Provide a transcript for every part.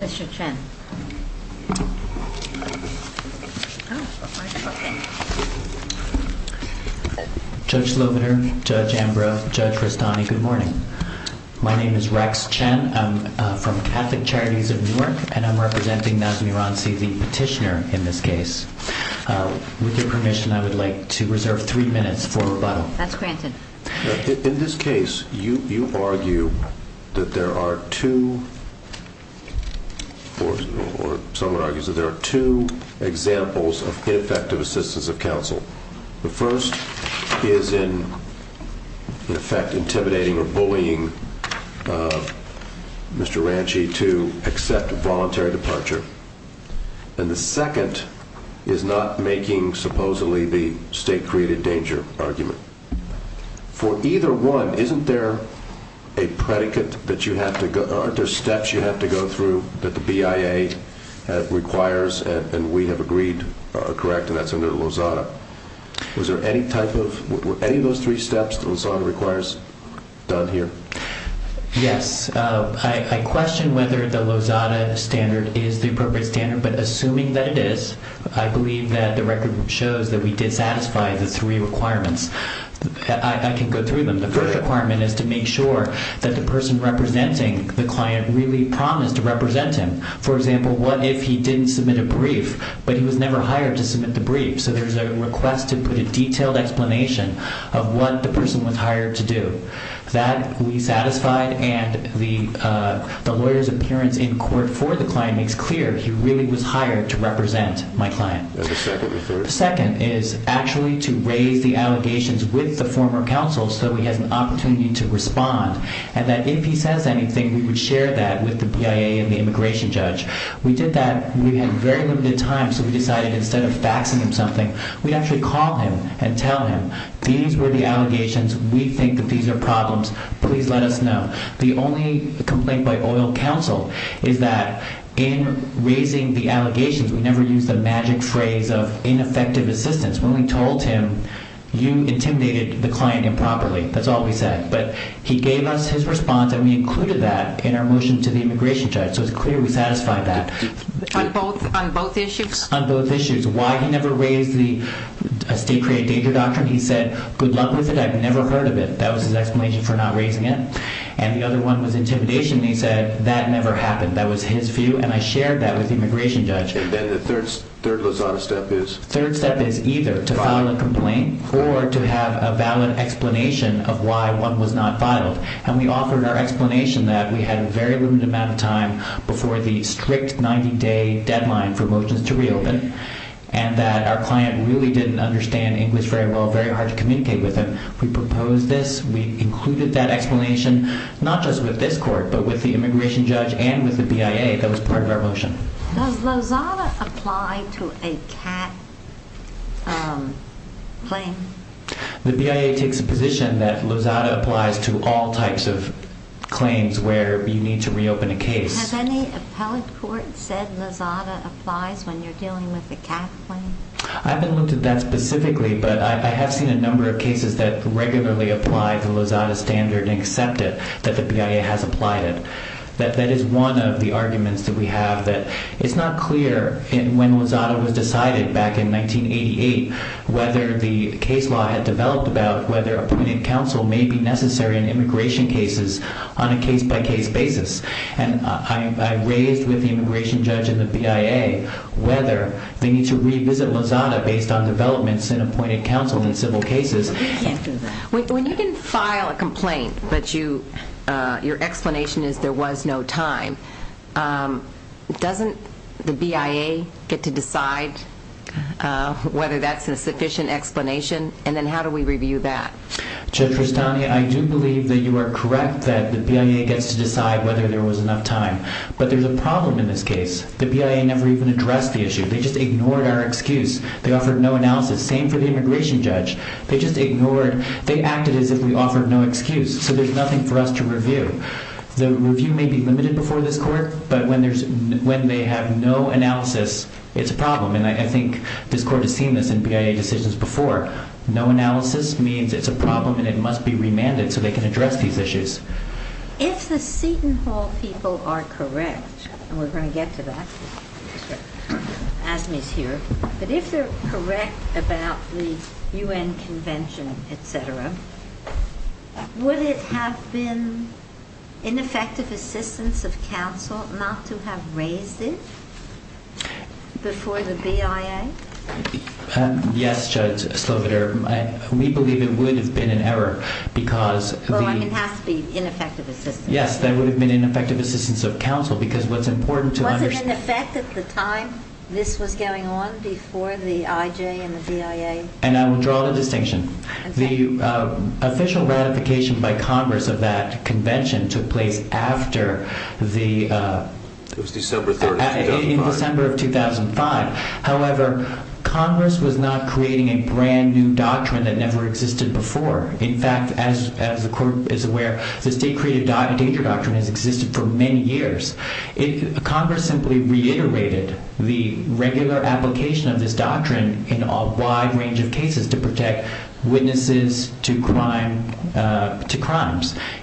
Mr. Chen, Judge Slovener, Judge Ambrose, Judge Rastani, good morning. My name is Rex Chen. I'm from Catholic Charities of Newark and I'm representing Nazmi Rranci, the petitioner in this case. With your permission, I would like to reserve three minutes for rebuttal. In this case, you argue that there are two examples of ineffective assistance of counsel. The first is in effect intimidating or bullying Mr. Rranci to accept a voluntary departure. And the second is not making supposedly the state created danger argument. For either one, isn't there a predicate that you have to go, aren't there steps you have to go through that the BIA requires and we have agreed are correct and that's under Lozada. Was there any type of, were any of those three steps that Lozada requires done here? Yes. I question whether the Lozada standard is the appropriate standard but assuming that it is, I believe that the record shows that we did satisfy the three requirements. I can go through them. The first requirement is to make sure that the person representing the client really promised to represent him. For example, what if he didn't submit a brief but he was never hired to submit the brief. So there's a request to put a detailed explanation of what the person was hired to do. That we satisfied and the lawyer's appearance in court for the client makes clear he really was hired to represent my client. And the second or third? The second is actually to raise the allegations with the former counsel so he has an opportunity to respond and that if he says anything, we would share that with the BIA and the immigration judge. We did that. We had very limited time so we decided instead of faxing him something, we'd actually call him and tell him, these were the allegations. We think that these are problems. Please let us know. The only complaint by oil counsel is that in raising the allegations, we never used the magic phrase of ineffective assistance. When we told him, you intimidated the client improperly. That's all we said. But he gave us his response and we included that in our motion to the immigration judge. So it's clear we satisfied that. On both issues? On both issues. Why he never raised the state created danger doctrine, he said, good luck with it. I've never heard of it. That was his explanation for not raising it. And the other one was intimidation. He said, that never happened. That was his view. And I shared that with the immigration judge. And then the third lasagna step is? Third step is either to file a complaint or to have a valid explanation of why one was not filed. And we offered our explanation that we had a very limited amount of time before the strict 90-day deadline for motions to reopen. And that our client really didn't understand English very well, very hard to communicate with him. We proposed this. We included that explanation, not just with this court, but with the immigration judge and with the BIA. That was part of our motion. Does lasagna apply to a cat claim? The BIA takes a position that lasagna applies to all types of claims where you need to reopen a case. Has any appellate court said lasagna applies when you're dealing with a cat claim? I haven't looked at that specifically, but I have seen a number of cases that regularly apply the lasagna standard and accept it, that the BIA has applied it. That is one of the arguments that we have. It's not clear when lasagna was decided back in 1988 whether the case law had developed about whether appointed counsel may be necessary in immigration cases on a case-by-case basis. And I raised with the immigration judge and the BIA whether they need to revisit lasagna based on developments in appointed counsel in civil cases. When you can file a complaint, but your explanation is there was no time, doesn't the BIA get to decide whether that's a sufficient explanation? And then how do we review that? Judge Rastani, I do believe that you are correct that the BIA gets to decide whether there was enough time. But there's a problem in this case. The BIA never even addressed the issue. They just ignored our excuse. They offered no analysis. The same for the immigration judge. They just ignored. They acted as if we offered no excuse. So there's nothing for us to review. The review may be limited before this Court, but when they have no analysis, it's a problem. And I think this Court has seen this in BIA decisions before. No analysis means it's a problem and it must be remanded so they can address these issues. If the Seton Hall people are correct, and we're going to get to that as Ms. Heer, but if they're correct about the U.N. Convention, et cetera, would it have been ineffective assistance of counsel not to have raised it before the BIA? Yes, Judge Sloviter. We believe it would have been an error because the— Well, I mean, it has to be ineffective assistance. Yes, that would have been ineffective assistance of counsel because what's important to understand— Was it in effect at the time this was going on, before the IJ and the BIA? And I will draw the distinction. Okay. The official ratification by Congress of that convention took place after the— It was December 30, 2005. In December of 2005. However, Congress was not creating a brand-new doctrine that never existed before. In fact, as the Court is aware, the state-created danger doctrine has existed for many years. Congress simply reiterated the regular application of this doctrine in a wide range of cases to protect witnesses to crimes.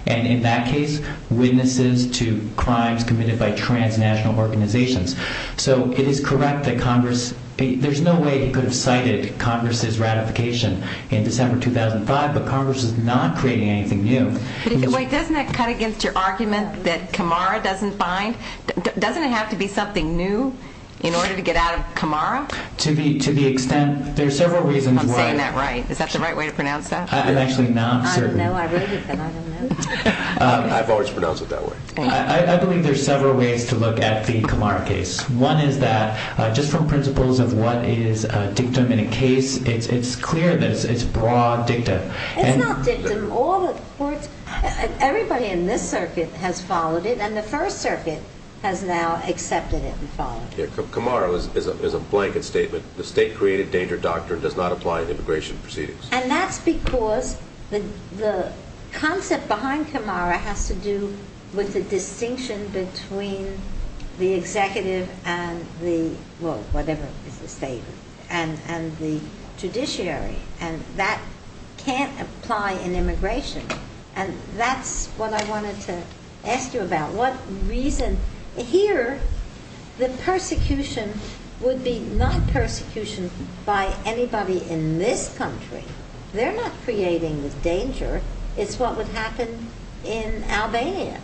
And in that case, witnesses to crimes committed by transnational organizations. So it is correct that Congress—there's no way you could have cited Congress's ratification in December 2005, but Congress is not creating anything new. Wait, doesn't that cut against your argument that Camara doesn't find—doesn't it have to be something new in order to get out of Camara? To the extent—there are several reasons why— I'm saying that right. Is that the right way to pronounce that? I'm actually not certain. I've always pronounced it that way. I believe there are several ways to look at the Camara case. One is that, just from principles of what is dictum in a case, it's clear that it's broad dictum. It's not dictum. All the courts—everybody in this circuit has followed it, and the First Circuit has now accepted it and followed it. Camara is a blanket statement. The state-created danger doctrine does not apply in immigration proceedings. And that's because the concept behind Camara has to do with the distinction between the executive and the—well, whatever is the statement—and the judiciary. And that can't apply in immigration. And that's what I wanted to ask you about. Here, the persecution would be not persecution by anybody in this country. They're not creating the danger. It's what would happen in Albania.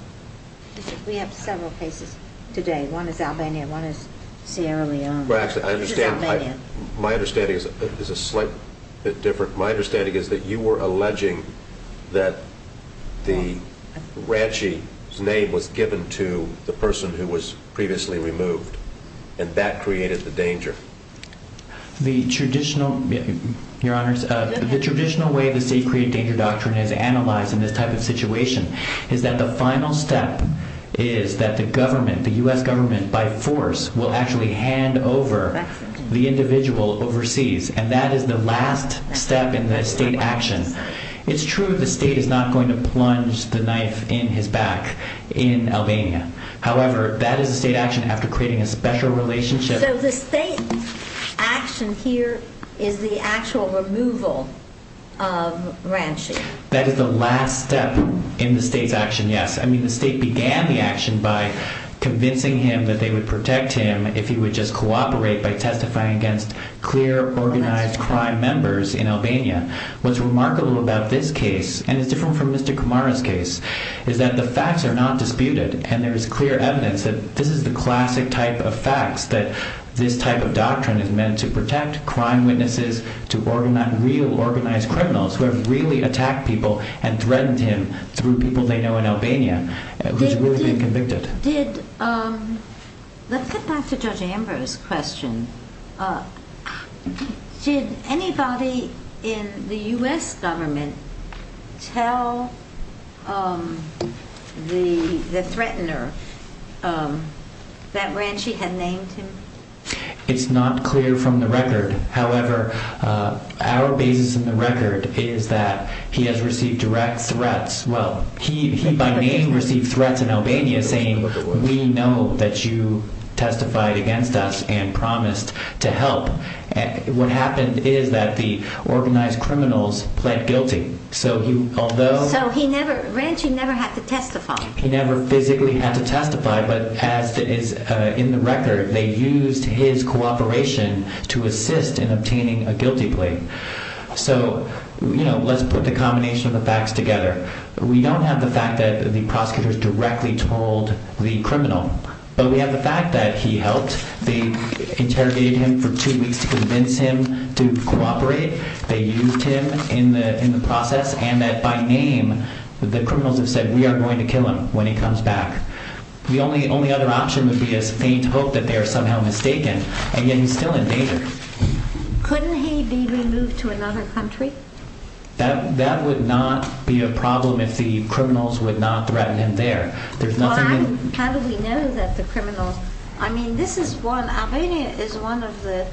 We have several cases today. One is Albania. One is Sierra Leone. Actually, I understand— This is Albania. My understanding is a slight bit different. My understanding is that you were alleging that the ranchie's name was given to the person who was previously removed, and that created the danger. The traditional—Your Honors, the traditional way the state-created danger doctrine is analyzed in this type of situation is that the final step is that the government, the U.S. government, by force, will actually hand over the individual overseas. And that is the last step in the state action. It's true the state is not going to plunge the knife in his back in Albania. However, that is a state action after creating a special relationship— So the state action here is the actual removal of ranchie. That is the last step in the state's action, yes. I mean, the state began the action by convincing him that they would protect him if he would just cooperate by testifying against clear, organized crime members in Albania. What's remarkable about this case, and it's different from Mr. Kamara's case, is that the facts are not disputed. And there is clear evidence that this is the classic type of facts, that this type of doctrine is meant to protect crime witnesses, to organize real organized criminals who have really attacked people and threatened him through people they know in Albania. He's really been convicted. Let's get back to Judge Amber's question. Did anybody in the U.S. government tell the threatener that ranchie had named him? It's not clear from the record. However, our basis in the record is that he has received direct threats. Well, he by name received threats in Albania saying, we know that you testified against us and promised to help. What happened is that the organized criminals pled guilty. So he never, ranchie never had to testify. He never physically had to testify, but as is in the record, they used his cooperation to assist in obtaining a guilty plea. So, you know, let's put the combination of the facts together. We don't have the fact that the prosecutors directly told the criminal, but we have the fact that he helped. They interrogated him for two weeks to convince him to cooperate. They used him in the process and that by name, the criminals have said we are going to kill him when he comes back. The only other option would be a faint hope that they are somehow mistaken. And yet he's still in danger. Couldn't he be removed to another country? That would not be a problem if the criminals would not threaten him there. How do we know that the criminals, I mean, this is one, Albania is one of the,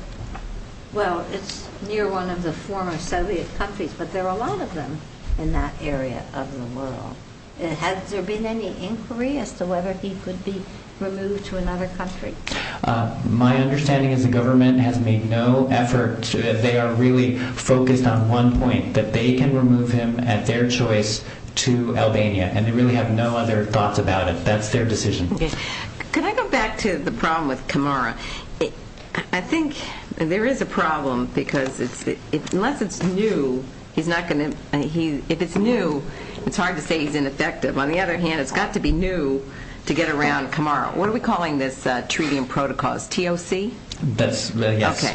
well, it's near one of the former Soviet countries, but there are a lot of them in that area of the world. Has there been any inquiry as to whether he could be removed to another country? My understanding is the government has made no effort. They are really focused on one point, that they can remove him at their choice to Albania. And they really have no other thoughts about it. That's their decision. Could I go back to the problem with Camara? I think there is a problem because unless it's new, he's not going to, if it's new, it's hard to say he's ineffective. On the other hand, it's got to be new to get around Camara. What are we calling this treaty and protocols, TOC? That's, yes.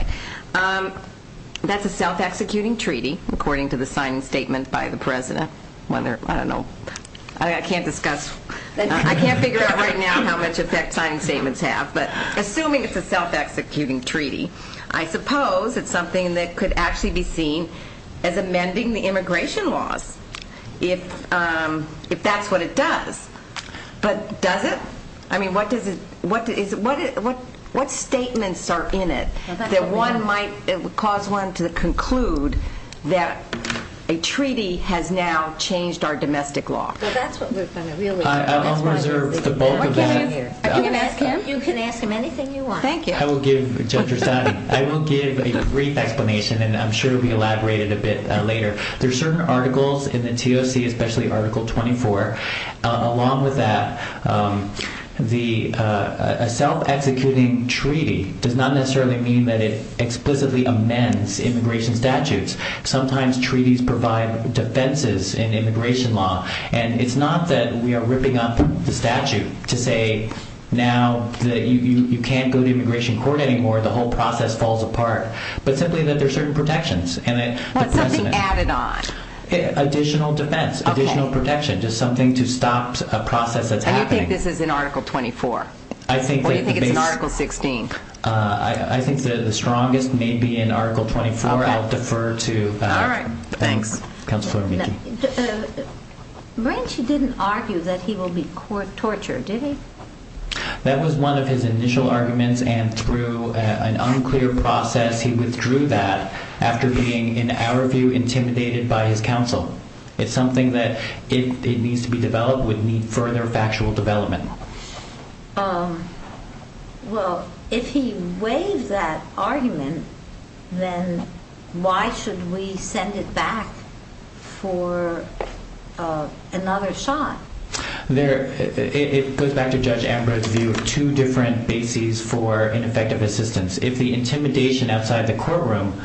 That's a self-executing treaty, according to the signing statement by the President. I don't know, I can't discuss, I can't figure out right now how much effect signing statements have. But assuming it's a self-executing treaty, I suppose it's something that could actually be seen as amending the immigration laws, if that's what it does. But does it? I mean, what statements are in it that one might, it would cause one to conclude that a treaty has now changed our domestic law? Well, that's what we're going to really discuss. I'll reserve the bulk of that. You can ask him anything you want. Thank you. I will give a brief explanation, and I'm sure it will be elaborated a bit later. There are certain articles in the TOC, especially Article 24. Along with that, a self-executing treaty does not necessarily mean that it explicitly amends immigration statutes. Sometimes treaties provide defenses in immigration law. And it's not that we are ripping up the statute to say now that you can't go to immigration court anymore, the whole process falls apart. But simply that there are certain protections. What's something added on? Additional defense, additional protection, just something to stop a process that's happening. And you think this is in Article 24? Or do you think it's in Article 16? I think the strongest may be in Article 24. I'll defer to Counselor McGee. All right. Thanks. Marencio didn't argue that he will be tortured, did he? That was one of his initial arguments. And through an unclear process, he withdrew that after being, in our view, intimidated by his counsel. It's something that, if it needs to be developed, would need further factual development. Well, if he waived that argument, then why should we send it back for another shot? It goes back to Judge Ambrose's view of two different bases for ineffective assistance. If the intimidation outside the courtroom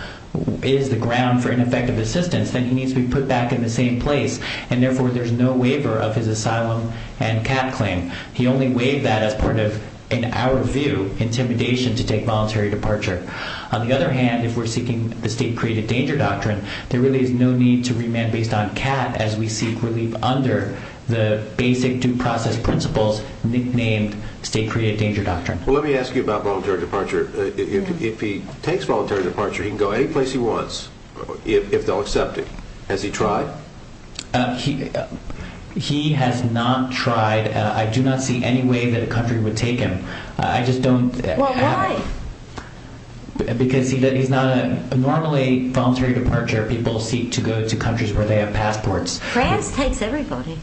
is the ground for ineffective assistance, then he needs to be put back in the same place. And therefore, there's no waiver of his asylum and CAT claim. He only waived that as part of, in our view, intimidation to take voluntary departure. On the other hand, if we're seeking the state-created danger doctrine, there really is no need to remand based on CAT as we seek relief under the basic due process principles nicknamed state-created danger doctrine. Well, let me ask you about voluntary departure. If he takes voluntary departure, he can go any place he wants if they'll accept it. Has he tried? He has not tried. I do not see any way that a country would take him. Well, why? Because normally, voluntary departure, people seek to go to countries where they have passports. France takes everybody.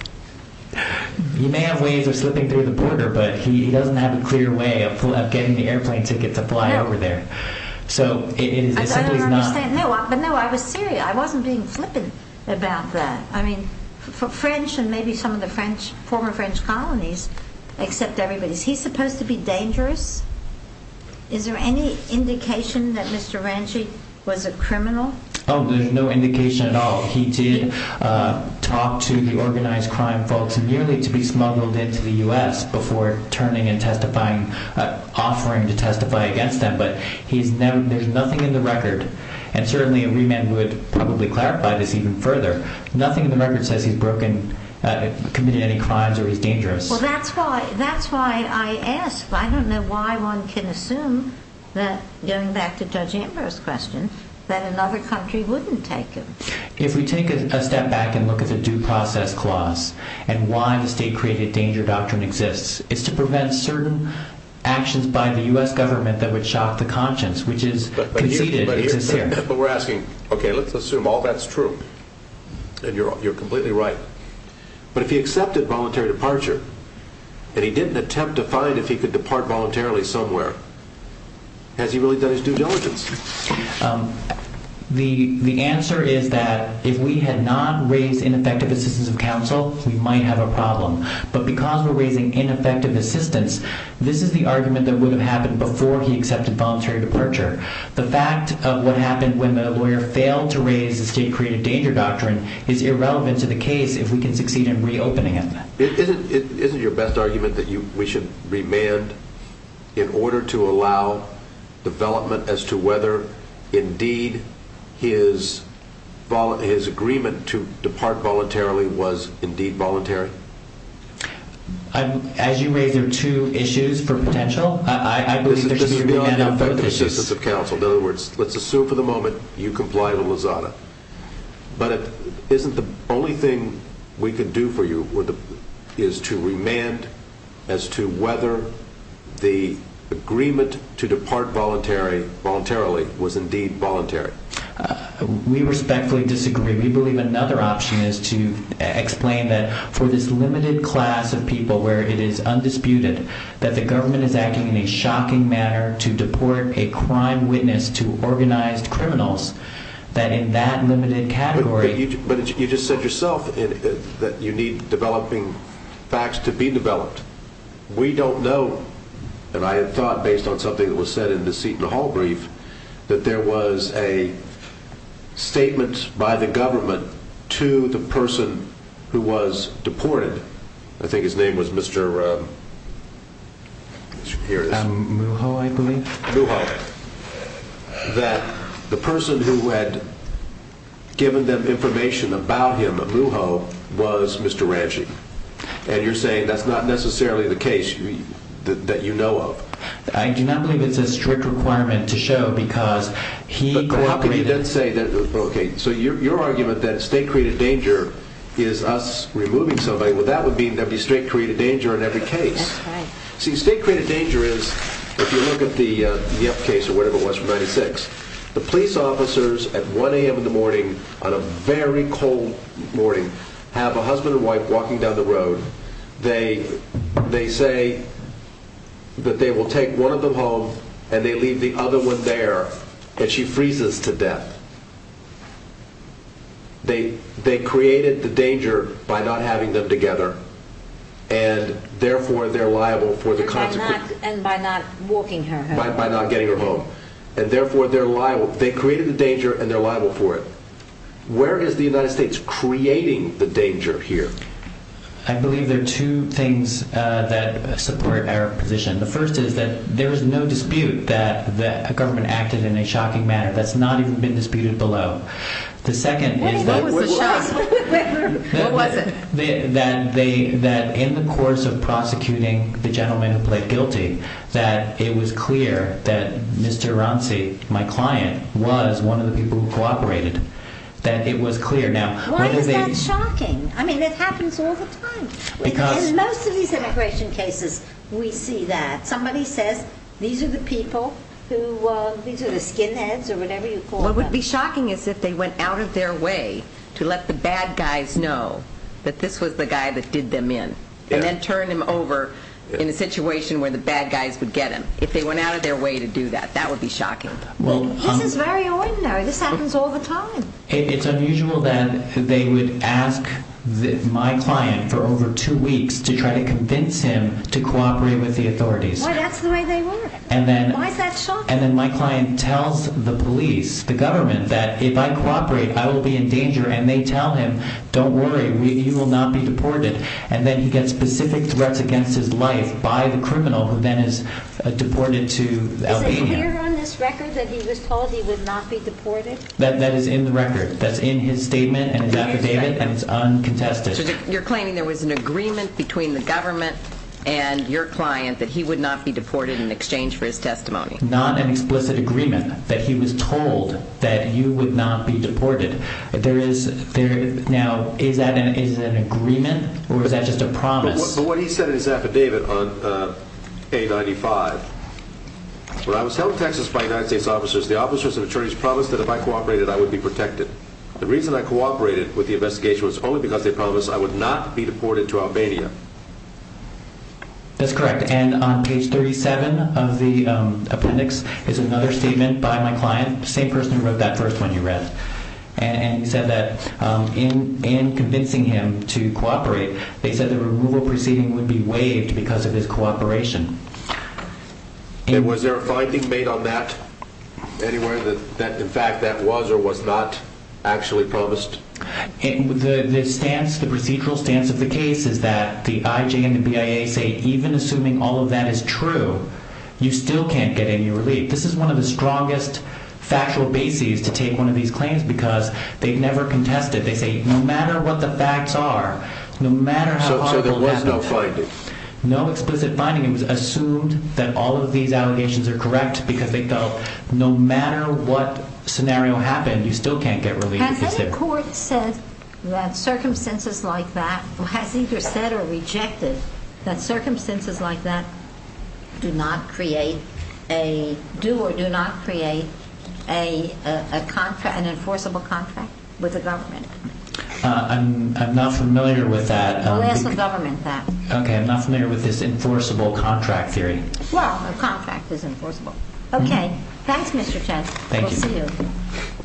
He may have ways of slipping through the border, but he doesn't have a clear way of getting the airplane ticket to fly over there. I don't understand. No, I was serious. I wasn't being flippant about that. French and maybe some of the former French colonies accept everybody. Is he supposed to be dangerous? Is there any indication that Mr. Ranchi was a criminal? Oh, there's no indication at all. He did talk to the organized crime folks nearly to be smuggled into the U.S. before turning and testifying, offering to testify against them. But there's nothing in the record, and certainly a remand would probably clarify this even further, nothing in the record says he's committed any crimes or he's dangerous. Well, that's why I ask. I don't know why one can assume, going back to Judge Amber's question, that another country wouldn't take him. If we take a step back and look at the due process clause and why the state-created danger doctrine exists, it's to prevent certain actions by the U.S. government that would shock the conscience, which is conceited and sincere. But we're asking, okay, let's assume all that's true, and you're completely right, but if he accepted voluntary departure and he didn't attempt to find if he could depart voluntarily somewhere, has he really done his due diligence? The answer is that if we had not raised ineffective assistance of counsel, we might have a problem. But because we're raising ineffective assistance, this is the argument that would have happened before he accepted voluntary departure. The fact of what happened when the lawyer failed to raise the state-created danger doctrine is irrelevant to the case if we can succeed in reopening it. Isn't your best argument that we should remand in order to allow development as to whether, indeed, his agreement to depart voluntarily was indeed voluntary? As you raised, there are two issues for potential. I believe there should be a remand on both issues. In other words, let's assume for the moment you comply with Lozada. But isn't the only thing we could do for you is to remand as to whether the agreement to depart voluntarily was indeed voluntary? We respectfully disagree. We believe another option is to explain that for this limited class of people where it is undisputed that the government is acting in a shocking manner to deport a crime witness to organized criminals, that in that limited category… But you just said yourself that you need developing facts to be developed. We don't know, and I had thought based on something that was said in the Seton Hall brief, that there was a statement by the government to the person who was deported. I think his name was Mr. Muho, I believe. Muho. That the person who had given them information about him, Muho, was Mr. Ramsey. And you're saying that's not necessarily the case that you know of. I do not believe it's a strict requirement to show because he cooperated… Okay, so your argument that state-created danger is us removing somebody, well, that would mean there would be state-created danger in every case. See, state-created danger is, if you look at the F case or whatever it was from 1996, the police officers at 1 a.m. in the morning, on a very cold morning, have a husband and wife walking down the road. They say that they will take one of them home and they leave the other one there and she freezes to death. They created the danger by not having them together and therefore they're liable for the consequences. And by not walking her home. By not getting her home. And therefore they're liable, they created the danger and they're liable for it. Where is the United States creating the danger here? I believe there are two things that support our position. The first is that there is no dispute that the government acted in a shocking manner. That's not even been disputed below. The second is that… What was the shock? What was it? That in the course of prosecuting the gentleman who pled guilty, that it was clear that Mr. Ronci, my client, was one of the people who cooperated. That it was clear. Why is that shocking? I mean it happens all the time. In most of these immigration cases we see that. Somebody says these are the people, these are the skinheads or whatever you call them. What would be shocking is if they went out of their way to let the bad guys know that this was the guy that did them in. And then turn him over in a situation where the bad guys would get him. If they went out of their way to do that, that would be shocking. This is very ordinary. This happens all the time. It's unusual that they would ask my client for over two weeks to try to convince him to cooperate with the authorities. That's the way they work. Why is that shocking? And then my client tells the police, the government, that if I cooperate I will be in danger. And they tell him, don't worry, you will not be deported. And then he gets specific threats against his life by the criminal who then is deported to Albania. Is it clear on this record that he was told he would not be deported? That is in the record. That's in his statement and his affidavit and it's uncontested. So you're claiming there was an agreement between the government and your client that he would not be deported in exchange for his testimony. Not an explicit agreement that he was told that you would not be deported. Now, is that an agreement or is that just a promise? But what he said in his affidavit on A95, when I was held in Texas by United States officers, the officers and attorneys promised that if I cooperated I would be protected. The reason I cooperated with the investigation was only because they promised I would not be deported to Albania. That's correct. And on page 37 of the appendix is another statement by my client, the same person who wrote that first one you read. And he said that in convincing him to cooperate, they said the removal proceeding would be waived because of his cooperation. And was there a finding made on that anywhere that in fact that was or was not actually promised? The procedural stance of the case is that the IJ and the BIA say even assuming all of that is true, you still can't get any relief. This is one of the strongest factual bases to take one of these claims because they've never contested. They say no matter what the facts are, no matter how horrible it happened. So there was no finding? No explicit finding. It was assumed that all of these allegations are correct because they felt no matter what scenario happened, you still can't get relief. Has any court said that circumstances like that or has either said or rejected that circumstances like that do or do not create an enforceable contract with the government? I'm not familiar with that. We'll ask the government that. Okay. I'm not familiar with this enforceable contract theory. Well, a contract is enforceable. Okay. Thanks, Mr. Chen. Thank you. We'll see you.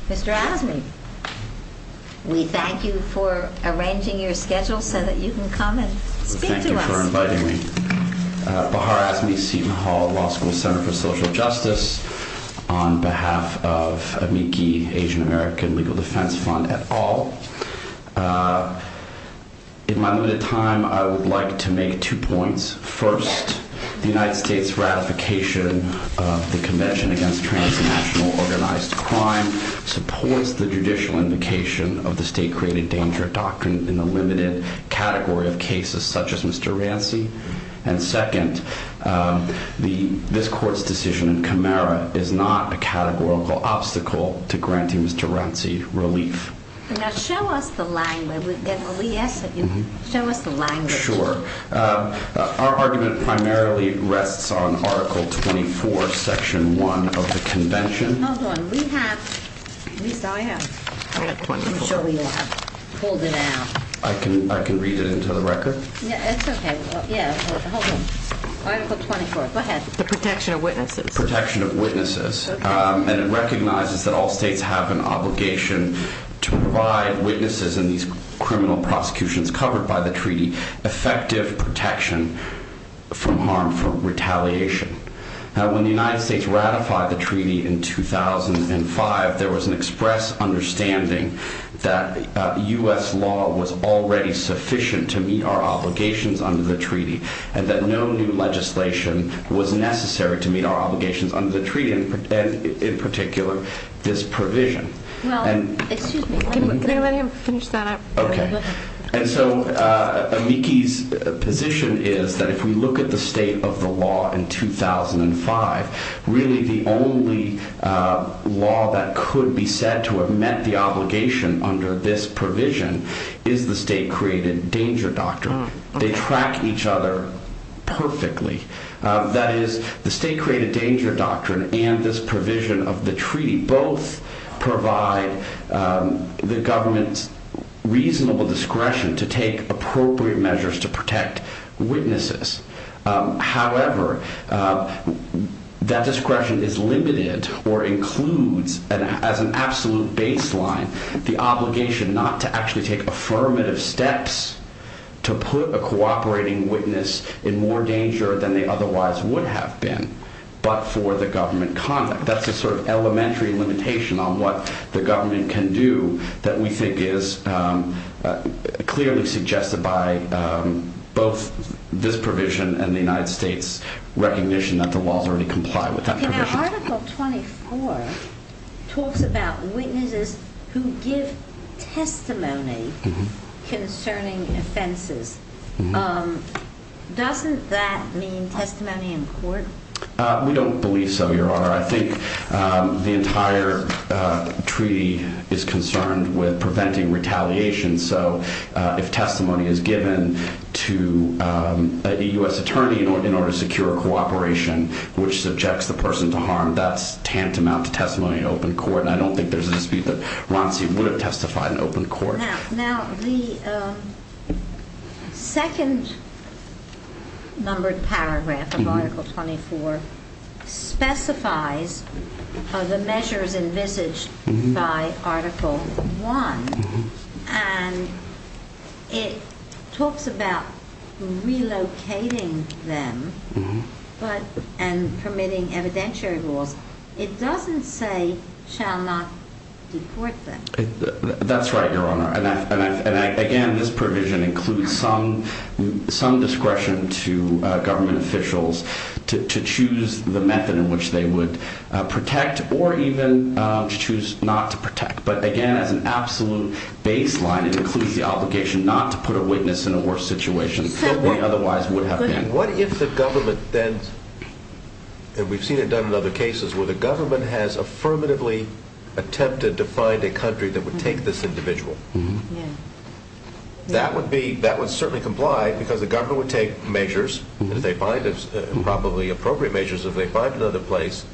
Mr. Asmey, we thank you for arranging your schedule so that you can come and speak to us. Thank you for inviting me. Bahar Asmey, Seton Hall Law School Center for Social Justice on behalf of Amici Asian American Legal Defense Fund et al. In my limited time, I would like to make two points. First, the United States ratification of the Convention Against Transnational Organized Crime supports the judicial invocation of the state-created danger doctrine in the limited category of cases such as Mr. Ranci. And second, this court's decision in Camara is not a categorical obstacle to granting Mr. Ranci relief. Now, show us the language. Show us the language. Sure. Our argument primarily rests on Article 24, Section 1 of the Convention. Hold on. We have, at least I have. I have 24. I'm sure we have. Hold it down. I can read it into the record? It's okay. Yeah. Hold on. Article 24. Go ahead. The protection of witnesses. Protection of witnesses. Okay. And it recognizes that all states have an obligation to provide witnesses in these criminal prosecutions covered by the treaty effective protection from harmful retaliation. Now, when the United States ratified the treaty in 2005, there was an express understanding that U.S. law was already sufficient to meet our obligations under the treaty and that no new legislation was necessary to meet our obligations under the treaty and, in particular, this provision. Well, excuse me. Can anybody finish that up? Okay. And so Amiki's position is that if we look at the state of the law in 2005, really the only law that could be said to have met the obligation under this provision is the state-created danger doctrine. They track each other perfectly. That is, the state-created danger doctrine and this provision of the treaty both provide the government's reasonable discretion to take appropriate measures to protect witnesses. However, that discretion is limited or includes as an absolute baseline the obligation not to actually take affirmative steps to put a cooperating witness in more danger than they otherwise would have been, but for the government conduct. That's a sort of elementary limitation on what the government can do that we think is clearly suggested by both this provision and the United States' recognition that the laws already comply with that provision. Now, Article 24 talks about witnesses who give testimony concerning offenses. Doesn't that mean testimony in court? We don't believe so, Your Honor. I think the entire treaty is concerned with preventing retaliation, so if testimony is given to a U.S. attorney in order to secure a cooperation which subjects the person to harm, that's tantamount to testimony in open court, and I don't think there's a dispute that Ronci would have testified in open court. Now, the second numbered paragraph of Article 24 specifies the measures envisaged by Article 1, and it talks about relocating them and permitting evidentiary rules. It doesn't say shall not deport them. That's right, Your Honor, and again, this provision includes some discretion to government officials to choose the method in which they would protect or even choose not to protect, but again, as an absolute baseline, it includes the obligation not to put a witness in a worse situation than they otherwise would have been. What if the government then, and we've seen it done in other cases, where the government has affirmatively attempted to find a country that would take this individual? That would certainly comply because the government would take measures, probably appropriate measures if they find another place,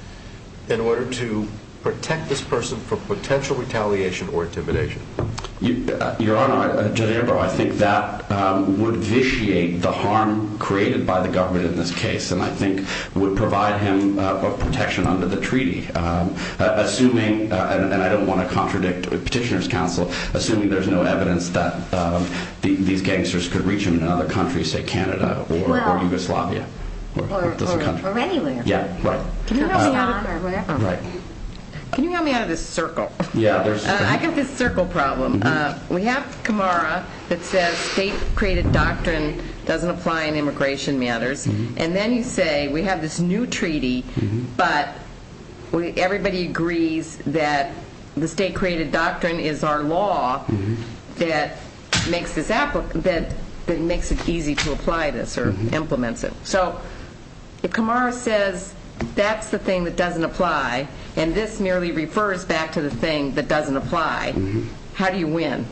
in order to protect this person from potential retaliation or intimidation. Your Honor, Judge Amber, I think that would vitiate the harm created by the government in this case, and I think would provide him protection under the treaty, assuming, and I don't want to contradict Petitioner's Counsel, assuming there's no evidence that these gangsters could reach him in another country, say Canada or Yugoslavia. Or anywhere. Yeah, right. Can you help me out of this circle? I've got this circle problem. We have Camara that says state-created doctrine doesn't apply in immigration matters, and then you say we have this new treaty, but everybody agrees that the state-created doctrine is our law that makes it easy to apply this or implements it. So if Camara says that's the thing that doesn't apply, and this merely refers back to the thing that doesn't apply, how do you win?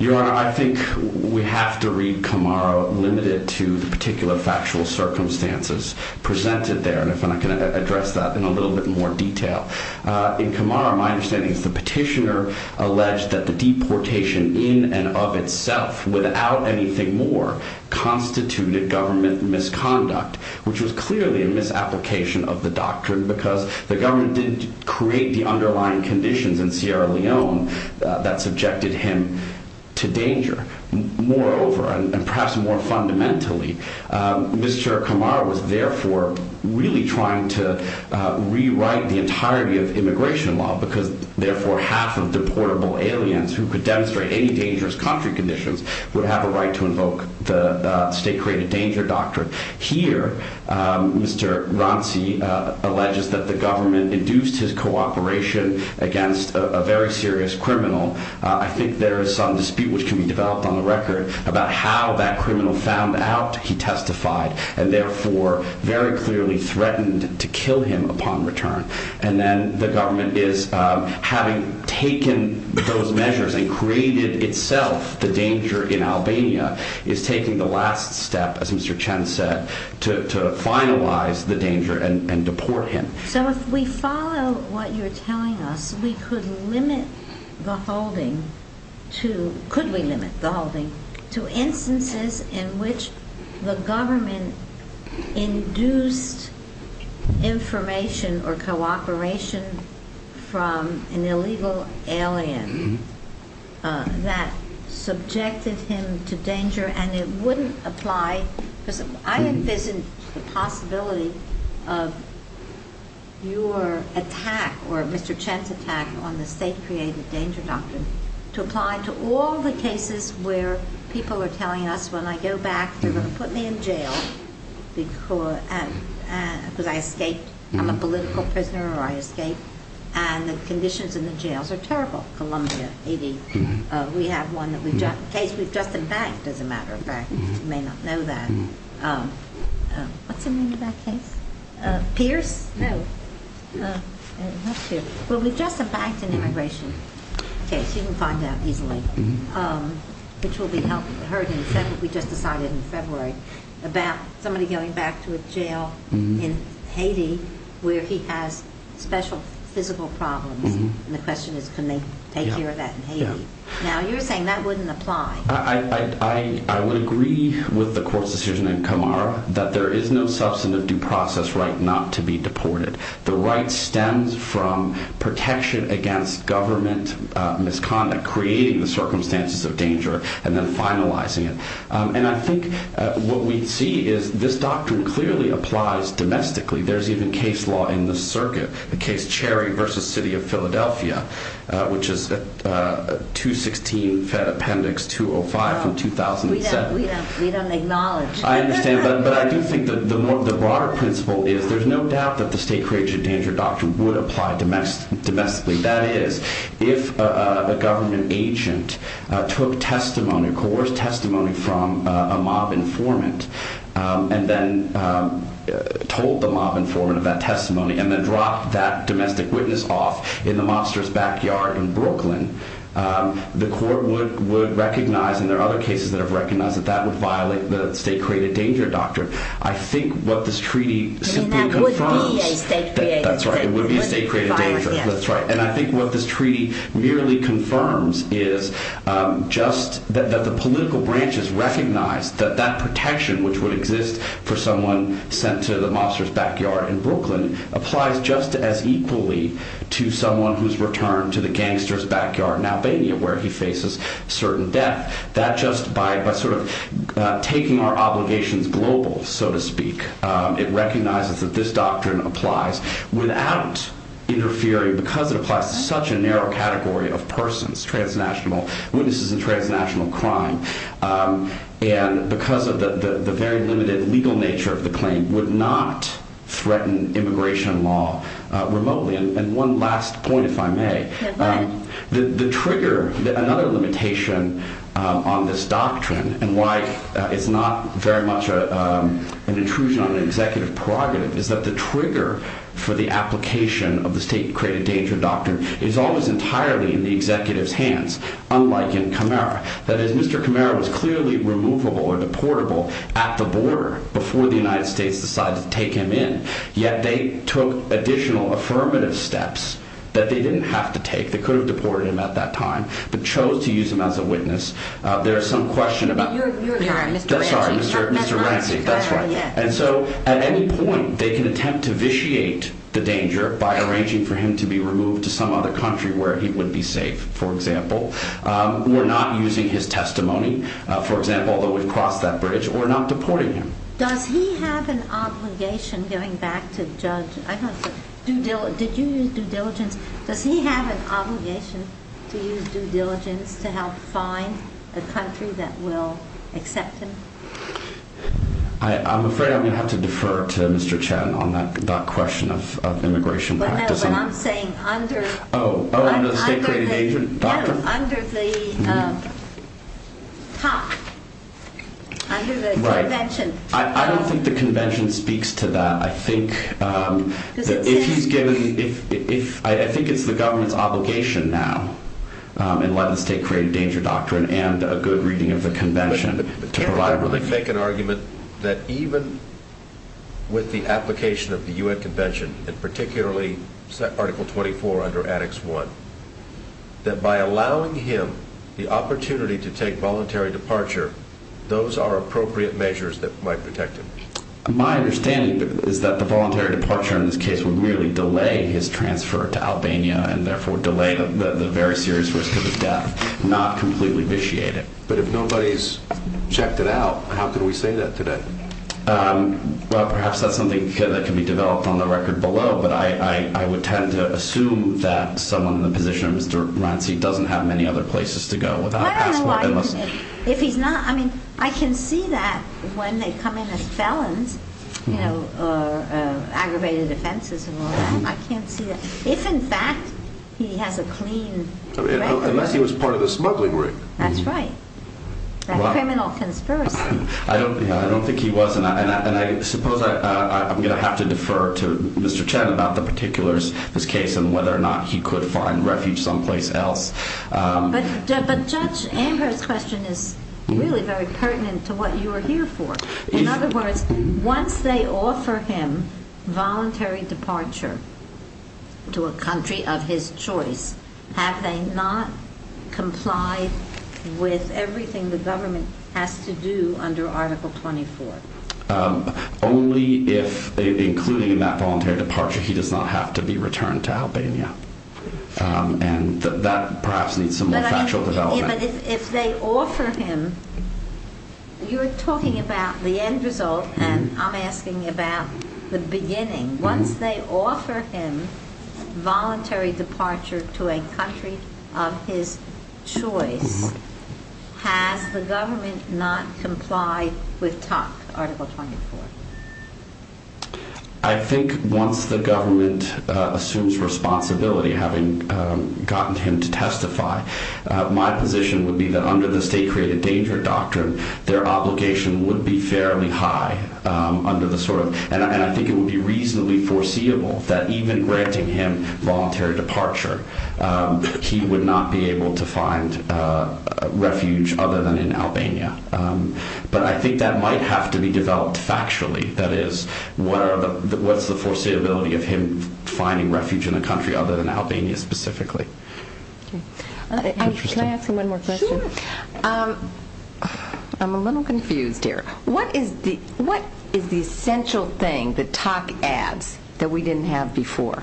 Your Honor, I think we have to read Camara limited to the particular factual circumstances presented there, and if I can address that in a little bit more detail. In Camara, my understanding is that Petitioner alleged that the deportation in and of itself, without anything more, constituted government misconduct, which was clearly a misapplication of the doctrine because the government didn't create the underlying conditions in Sierra Leone that subjected him to danger. Moreover, and perhaps more fundamentally, Mr. Camara was therefore really trying to rewrite the entirety of immigration law because therefore half of deportable aliens who could demonstrate any dangerous country conditions would have a right to invoke the state-created danger doctrine. Here, Mr. Ronci alleges that the government induced his cooperation against a very serious criminal. I think there is some dispute which can be developed on the record about how that criminal found out he testified and therefore very clearly threatened to kill him upon return. And then the government, having taken those measures and created itself the danger in Albania, is taking the last step, as Mr. Chen said, to finalize the danger and deport him. So if we follow what you're telling us, could we limit the holding to instances in which the government induced information or cooperation from an illegal alien that subjected him to danger and it wouldn't apply? I envision the possibility of your attack or Mr. Chen's attack on the state-created danger doctrine to apply to all the cases where people are telling us when I go back they're going to put me in jail because I escaped, I'm a political prisoner or I escaped, and the conditions in the jails are terrible. We have one case we've just in fact, as a matter of fact, you may not know that. What's the name of that case? Pierce? No. Well, we've just in fact an immigration case, you can find out easily, which will be heard in a second, we just decided in February, about somebody going back to a jail in Haiti where he has special physical problems and the question is can they take care of that in Haiti? Now you're saying that wouldn't apply. I would agree with the court's decision in Camara that there is no substantive due process right not to be deported. The right stems from protection against government misconduct, creating the circumstances of danger and then finalizing it. And I think what we see is this doctrine clearly applies domestically, there's even case law in the circuit, the case Cherry v. City of Philadelphia, which is 216 Fed Appendix 205 from 2007. We don't acknowledge. I understand, but I do think the broader principle is there's no doubt that the state creation of danger doctrine would apply domestically. That is, if a government agent took testimony, coerced testimony from a mob informant and then told the mob informant of that testimony and then dropped that domestic witness off in the mobster's backyard in Brooklyn, the court would recognize, and there are other cases that have recognized, that that would violate the state created danger doctrine. I think what this treaty simply confirms. And that would be a state created danger. That's right, it would be a state created danger. And I think what this treaty merely confirms is just that the political branches recognize that that protection which would exist for someone sent to the mobster's backyard in Brooklyn applies just as equally to someone who's returned to the gangster's backyard in Albania where he faces certain death. That just by sort of taking our obligations global, so to speak, it recognizes that this doctrine applies without interfering, because it applies to such a narrow category of persons, witnesses in transnational crime. And because of the very limited legal nature of the claim, would not threaten immigration law remotely. And one last point, if I may. Go ahead. The trigger, another limitation on this doctrine, and why it's not very much an intrusion on an executive prerogative, is that the trigger for the application of the state created danger doctrine is always entirely in the executive's hands, unlike in Camara. That is, Mr. Camara was clearly removable or deportable at the border before the United States decided to take him in, yet they took additional affirmative steps that they didn't have to take. They could have deported him at that time, but chose to use him as a witness. There is some question about... You're right, Mr. Ranci. Sorry, Mr. Ranci, that's right. And so at any point, they can attempt to vitiate the danger by arranging for him to be removed to some other country where he would be safe. For example, we're not using his testimony, for example, although we've crossed that bridge, we're not deporting him. Does he have an obligation, going back to Judge... Did you use due diligence? Does he have an obligation to use due diligence to help find a country that will accept him? I'm afraid I'm going to have to defer to Mr. Chen on that question of immigration practicing. What I'm saying, under... Oh, under the State Created Danger Doctrine? No, under the top, under the convention. I don't think the convention speaks to that. I think that if he's given... I think it's the government's obligation now in light of the State Created Danger Doctrine and a good reading of the convention... Can I really make an argument that even with the application of the U.N. Convention, and particularly Article 24 under Addicts 1, that by allowing him the opportunity to take voluntary departure, those are appropriate measures that might protect him? My understanding is that the voluntary departure in this case would merely delay his transfer to Albania and therefore delay the very serious risk of his death, not completely vitiate it. But if nobody's checked it out, how can we say that today? Well, perhaps that's something that can be developed on the record below, but I would tend to assume that someone in the position of Mr. Ranci doesn't have many other places to go without a passport unless... I don't know why he can't. If he's not... I mean, I can see that when they come in as felons, you know, or aggravated offenses and all that. I can't see that. If, in fact, he has a clean record... Unless he was part of the smuggling ring. That's right. That's a criminal conspiracy. I don't think he was, and I suppose I'm going to have to defer to Mr. Chen about the particulars of this case and whether or not he could find refuge someplace else. But Judge Amber's question is really very pertinent to what you are here for. In other words, once they offer him voluntary departure to a country of his choice, have they not complied with everything the government has to do under Article 24? Only if, including in that voluntary departure, he does not have to be returned to Albania. And that perhaps needs some more factual development. But if they offer him, you're talking about the end result, and I'm asking about the beginning. Once they offer him voluntary departure to a country of his choice, has the government not complied with TUC, Article 24? I think once the government assumes responsibility, having gotten him to testify, my position would be that under the State Created Danger Doctrine, their obligation would be fairly high under the sort of... And I think it would be reasonably foreseeable that even granting him voluntary departure, he would not be able to find refuge other than in Albania. But I think that might have to be developed factually. That is, what's the foreseeability of him finding refuge in a country other than Albania specifically? Can I ask him one more question? Sure. I'm a little confused here. What is the essential thing that TUC adds that we didn't have before?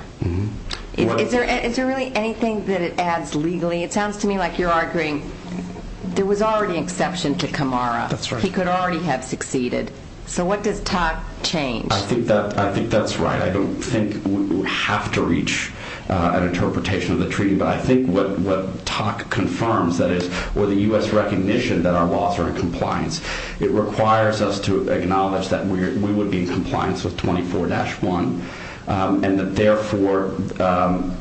Is there really anything that it adds legally? It sounds to me like you're arguing there was already an exception to Camara. He could already have succeeded. So what does TUC change? I think that's right. I don't think we have to reach an interpretation of the treaty, but I think what TUC confirms, that is, with the U.S. recognition that our laws are in compliance, it requires us to acknowledge that we would be in compliance with 24-1 and that therefore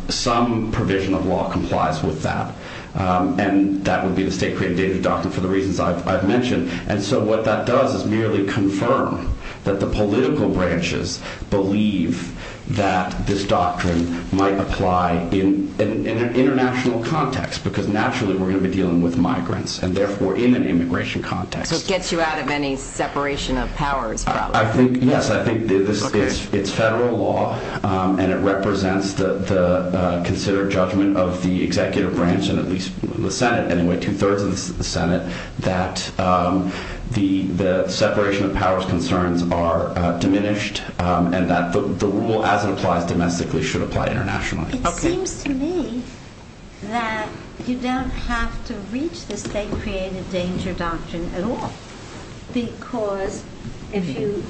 some provision of law complies with that. And that would be the state-created data doctrine for the reasons I've mentioned. And so what that does is merely confirm that the political branches believe that this doctrine might apply in an international context because naturally we're going to be dealing with migrants and therefore in an immigration context. So it gets you out of any separation of powers problem. Yes, I think it's federal law and it represents the considered judgment of the executive branch, and at least the Senate anyway, two-thirds of the Senate, that the separation of powers concerns are diminished and that the rule as it applies domestically should apply internationally. It seems to me that you don't have to reach the state-created danger doctrine at all because if you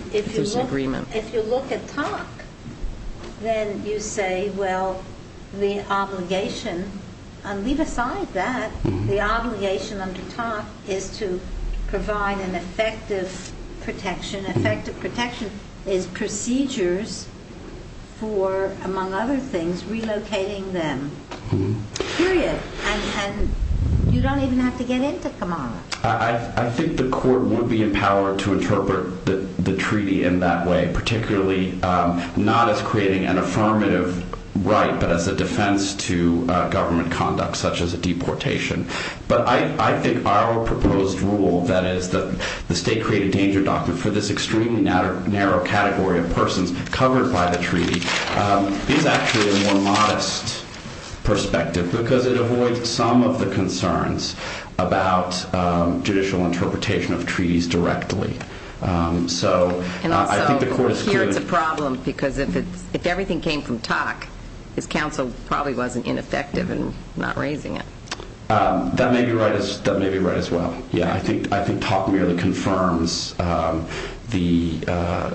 look at TUC, then you say, well, the obligation, and leave aside that, the obligation under TUC is to provide an effective protection. An effective protection is procedures for, among other things, relocating them, period. And you don't even have to get into Kamala. I think the court would be empowered to interpret the treaty in that way, particularly not as creating an affirmative right, but as a defense to government conduct such as a deportation. But I think our proposed rule, that is the state-created danger doctrine, for this extremely narrow category of persons covered by the treaty, is actually a more modest perspective because it avoids some of the concerns about judicial interpretation of treaties directly. And also, here it's a problem because if everything came from TUC, his counsel probably wasn't ineffective in not raising it. That may be right as well. I think TUC merely confirms the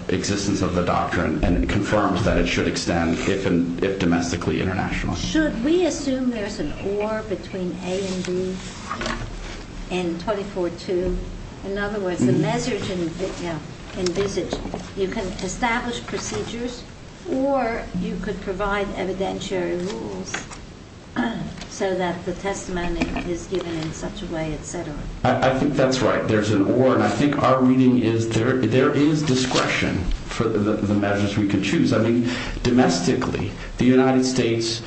existence of the doctrine and it confirms that it should extend if domestically, internationally. Should we assume there's an or between A and B and 24-2? In other words, the measures envisaged, you can establish procedures or you could provide evidentiary rules so that the testimony is given in such a way, etc. I think that's right. There's an or. And I think our reading is there is discretion for the measures we could choose. I mean, domestically, the United States,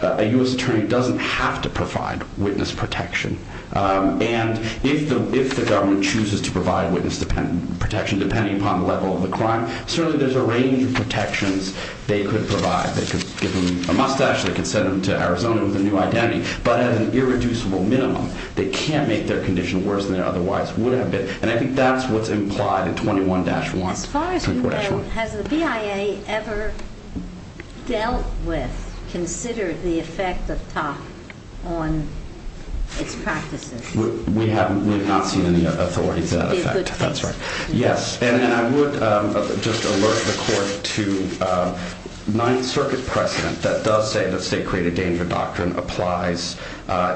a U.S. attorney doesn't have to provide witness protection. And if the government chooses to provide witness protection, depending upon the level of the crime, certainly there's a range of protections they could provide. They could give them a mustache, they could send them to Arizona with a new identity. But at an irreducible minimum, they can't make their condition worse than it otherwise would have been. And I think that's what's implied in 21-1. As far as we know, has the BIA ever dealt with, considered the effect of TUC on its practices? We have not seen any authority to that effect. That's right. Yes. And I would just alert the court to Ninth Circuit precedent that does say that state-created danger doctrine applies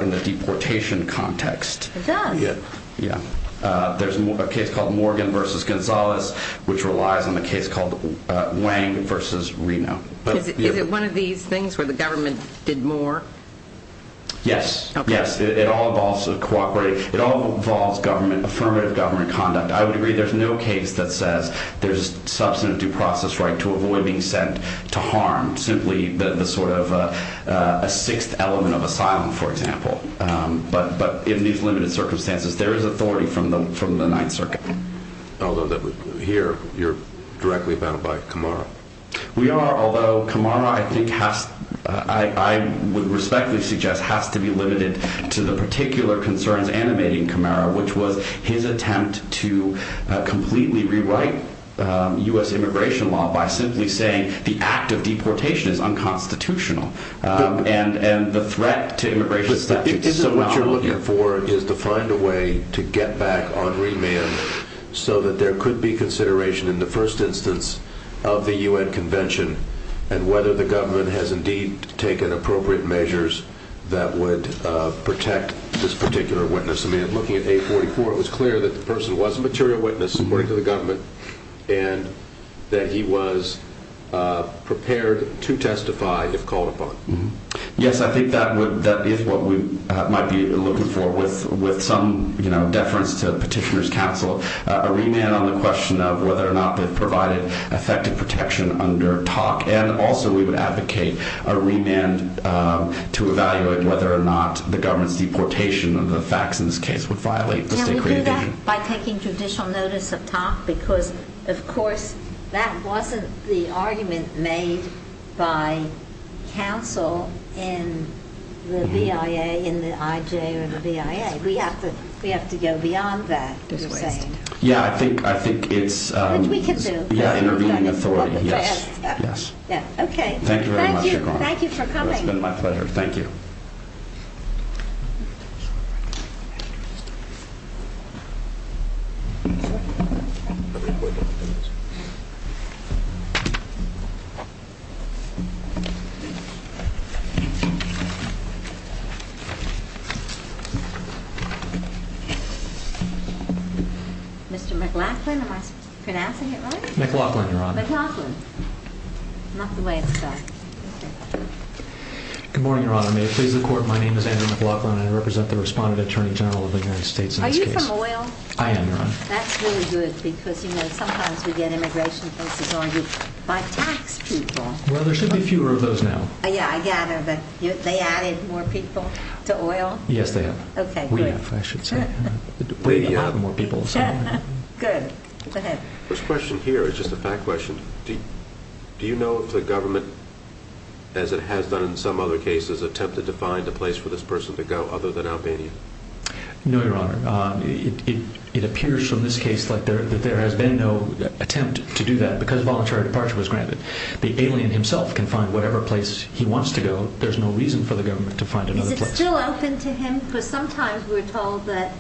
in the deportation context. It does. Yeah. There's a case called Morgan v. Gonzales, which relies on the case called Wang v. Reno. Is it one of these things where the government did more? Yes. Yes. It all involves cooperating. It all involves affirmative government conduct. I would agree there's no case that says there's substantive due process right to avoid being sent to harm, simply the sort of sixth element of asylum, for example. But in these limited circumstances, there is authority from the Ninth Circuit. Although here, you're directly bound by Camara. We are, although Camara, I would respectfully suggest, has to be limited to the particular concerns animating Camara, which was his attempt to completely rewrite U.S. immigration law by simply saying the act of deportation is unconstitutional and the threat to immigration statutes is not on here. But isn't what you're looking for is to find a way to get back on remand so that there could be consideration in the first instance of the U.N. Convention and whether the government has indeed taken appropriate measures that would protect this particular witness. I mean, looking at 844, it was clear that the person was a material witness, according to the government, and that he was prepared to testify if called upon. Yes, I think that is what we might be looking for with some, you know, deference to Petitioner's Council, a remand on the question of whether or not they've provided effective protection under TOC, and also we would advocate a remand to evaluate whether or not the government's deportation under the Faxon's case would violate the State Creative Union. Now, we do that by taking judicial notice of TOC because, of course, that wasn't the argument made by counsel in the BIA, in the IJ, or the BIA. We have to go beyond that, you're saying. Yeah, I think it's intervening authority, yes. Thank you very much. Thank you for coming. It's been my pleasure. Thank you. Mr. McLaughlin, am I pronouncing it right? McLaughlin, Your Honor. McLaughlin. Not the way it's done. Good morning, Your Honor. May it please the Court, my name is Andrew McLaughlin. I represent the Respondent Attorney General of the United States in this case. Are you from oil? I am, Your Honor. That's really good because, you know, sometimes we get immigration cases argued by tax people. Well, there should be fewer of those now. Yeah, I gather, but they added more people to oil? Yes, they have. Okay, great. We have, I should say. Good. Go ahead. This question here is just a fact question. Do you know if the government, as it has done in some other cases, attempted to find a place for this person to go other than Albania? No, Your Honor. It appears from this case that there has been no attempt to do that because voluntary departure was granted. The alien himself can find whatever place he wants to go. There's no reason for the government to find another place. Is it still open to him? Because sometimes we're told that,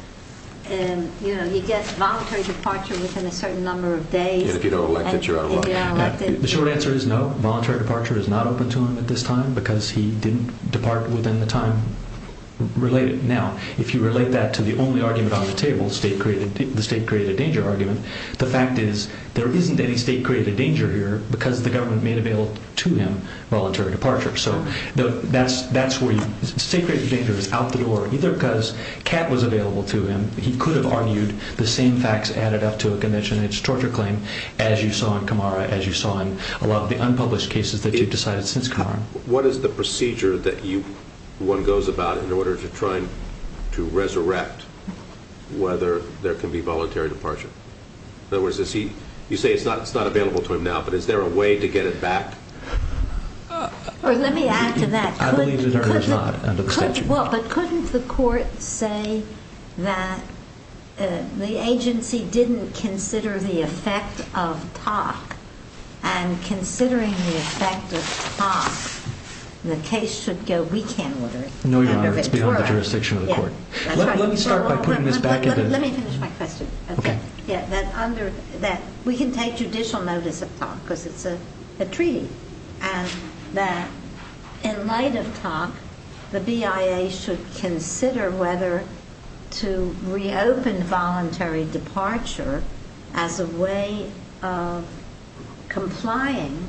you know, you get voluntary departure within a certain number of days. If you don't elect it, you're out of luck. The short answer is no. Voluntary departure is not open to him at this time because he didn't depart within the time related. Now, if you relate that to the only argument on the table, the state-created danger argument, the fact is there isn't any state-created danger here because the government made available to him voluntary departure. So that's where state-created danger is out the door, either because Kat was available to him. He could have argued the same facts added up to a condition. It's a torture claim, as you saw in Kamara, as you saw in a lot of the unpublished cases that you've decided since Kamara. What is the procedure that one goes about in order to try to resurrect whether there can be voluntary departure? In other words, you say it's not available to him now, but is there a way to get it back? Let me add to that. I believe there is not under the statute. Well, but couldn't the court say that the agency didn't consider the effect of talk and considering the effect of talk, the case should go weekend order? No, Your Honor, it's beyond the jurisdiction of the court. Let me start by putting this back in the... Let me finish my question. Okay. That we can take judicial notice of talk because it's a treaty and that in light of talk, the BIA should consider whether to reopen voluntary departure as a way of complying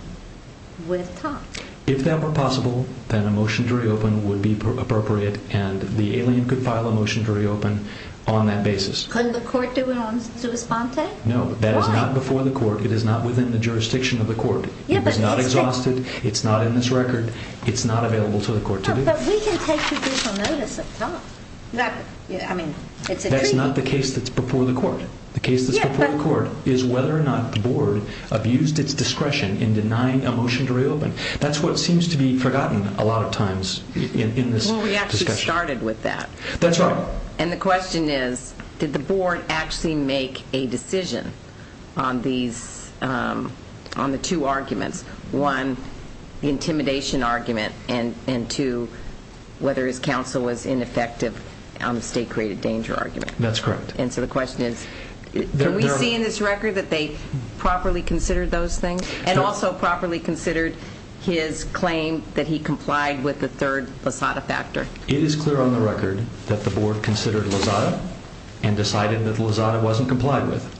with talk. If that were possible, then a motion to reopen would be appropriate and the alien could file a motion to reopen on that basis. Couldn't the court do it on sua sponte? No. That is not before the court. It is not within the jurisdiction of the court. It is not exhausted. It's not in this record. It's not available to the court to do. But we can take judicial notice of talk. I mean, it's a treaty. That's not the case that's before the court. The case that's before the court is whether or not the board abused its discretion in denying a motion to reopen. That's what seems to be forgotten a lot of times in this discussion. Well, we actually started with that. That's right. And the question is, did the board actually make a decision on the two arguments, one, the intimidation argument, and two, whether his counsel was ineffective on the state-created danger argument? That's correct. And so the question is, can we see in this record that they properly considered those things and also properly considered his claim that he complied with the third passata factor? It is clear on the record that the board considered lasada and decided that the lasada wasn't complied with.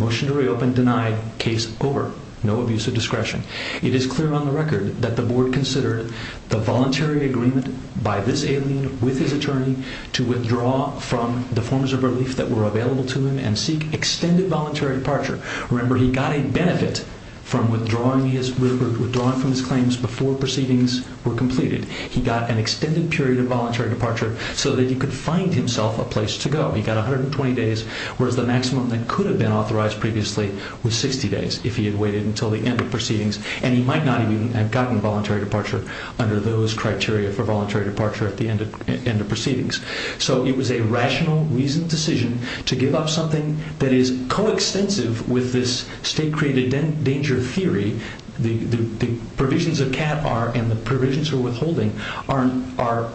Motion to reopen denied. Case over. No abuse of discretion. It is clear on the record that the board considered the voluntary agreement by this alien with his attorney to withdraw from the forms of relief that were available to him and seek extended voluntary departure. Remember, he got a benefit from withdrawing from his claims before proceedings were completed. He got an extended period of voluntary departure so that he could find himself a place to go. He got 120 days, whereas the maximum that could have been authorized previously was 60 days if he had waited until the end of proceedings. And he might not even have gotten voluntary departure under those criteria for voluntary departure at the end of proceedings. So it was a rational, reasoned decision to give up something that is coextensive with this state-created danger theory. The provisions of CAT and the provisions for withholding are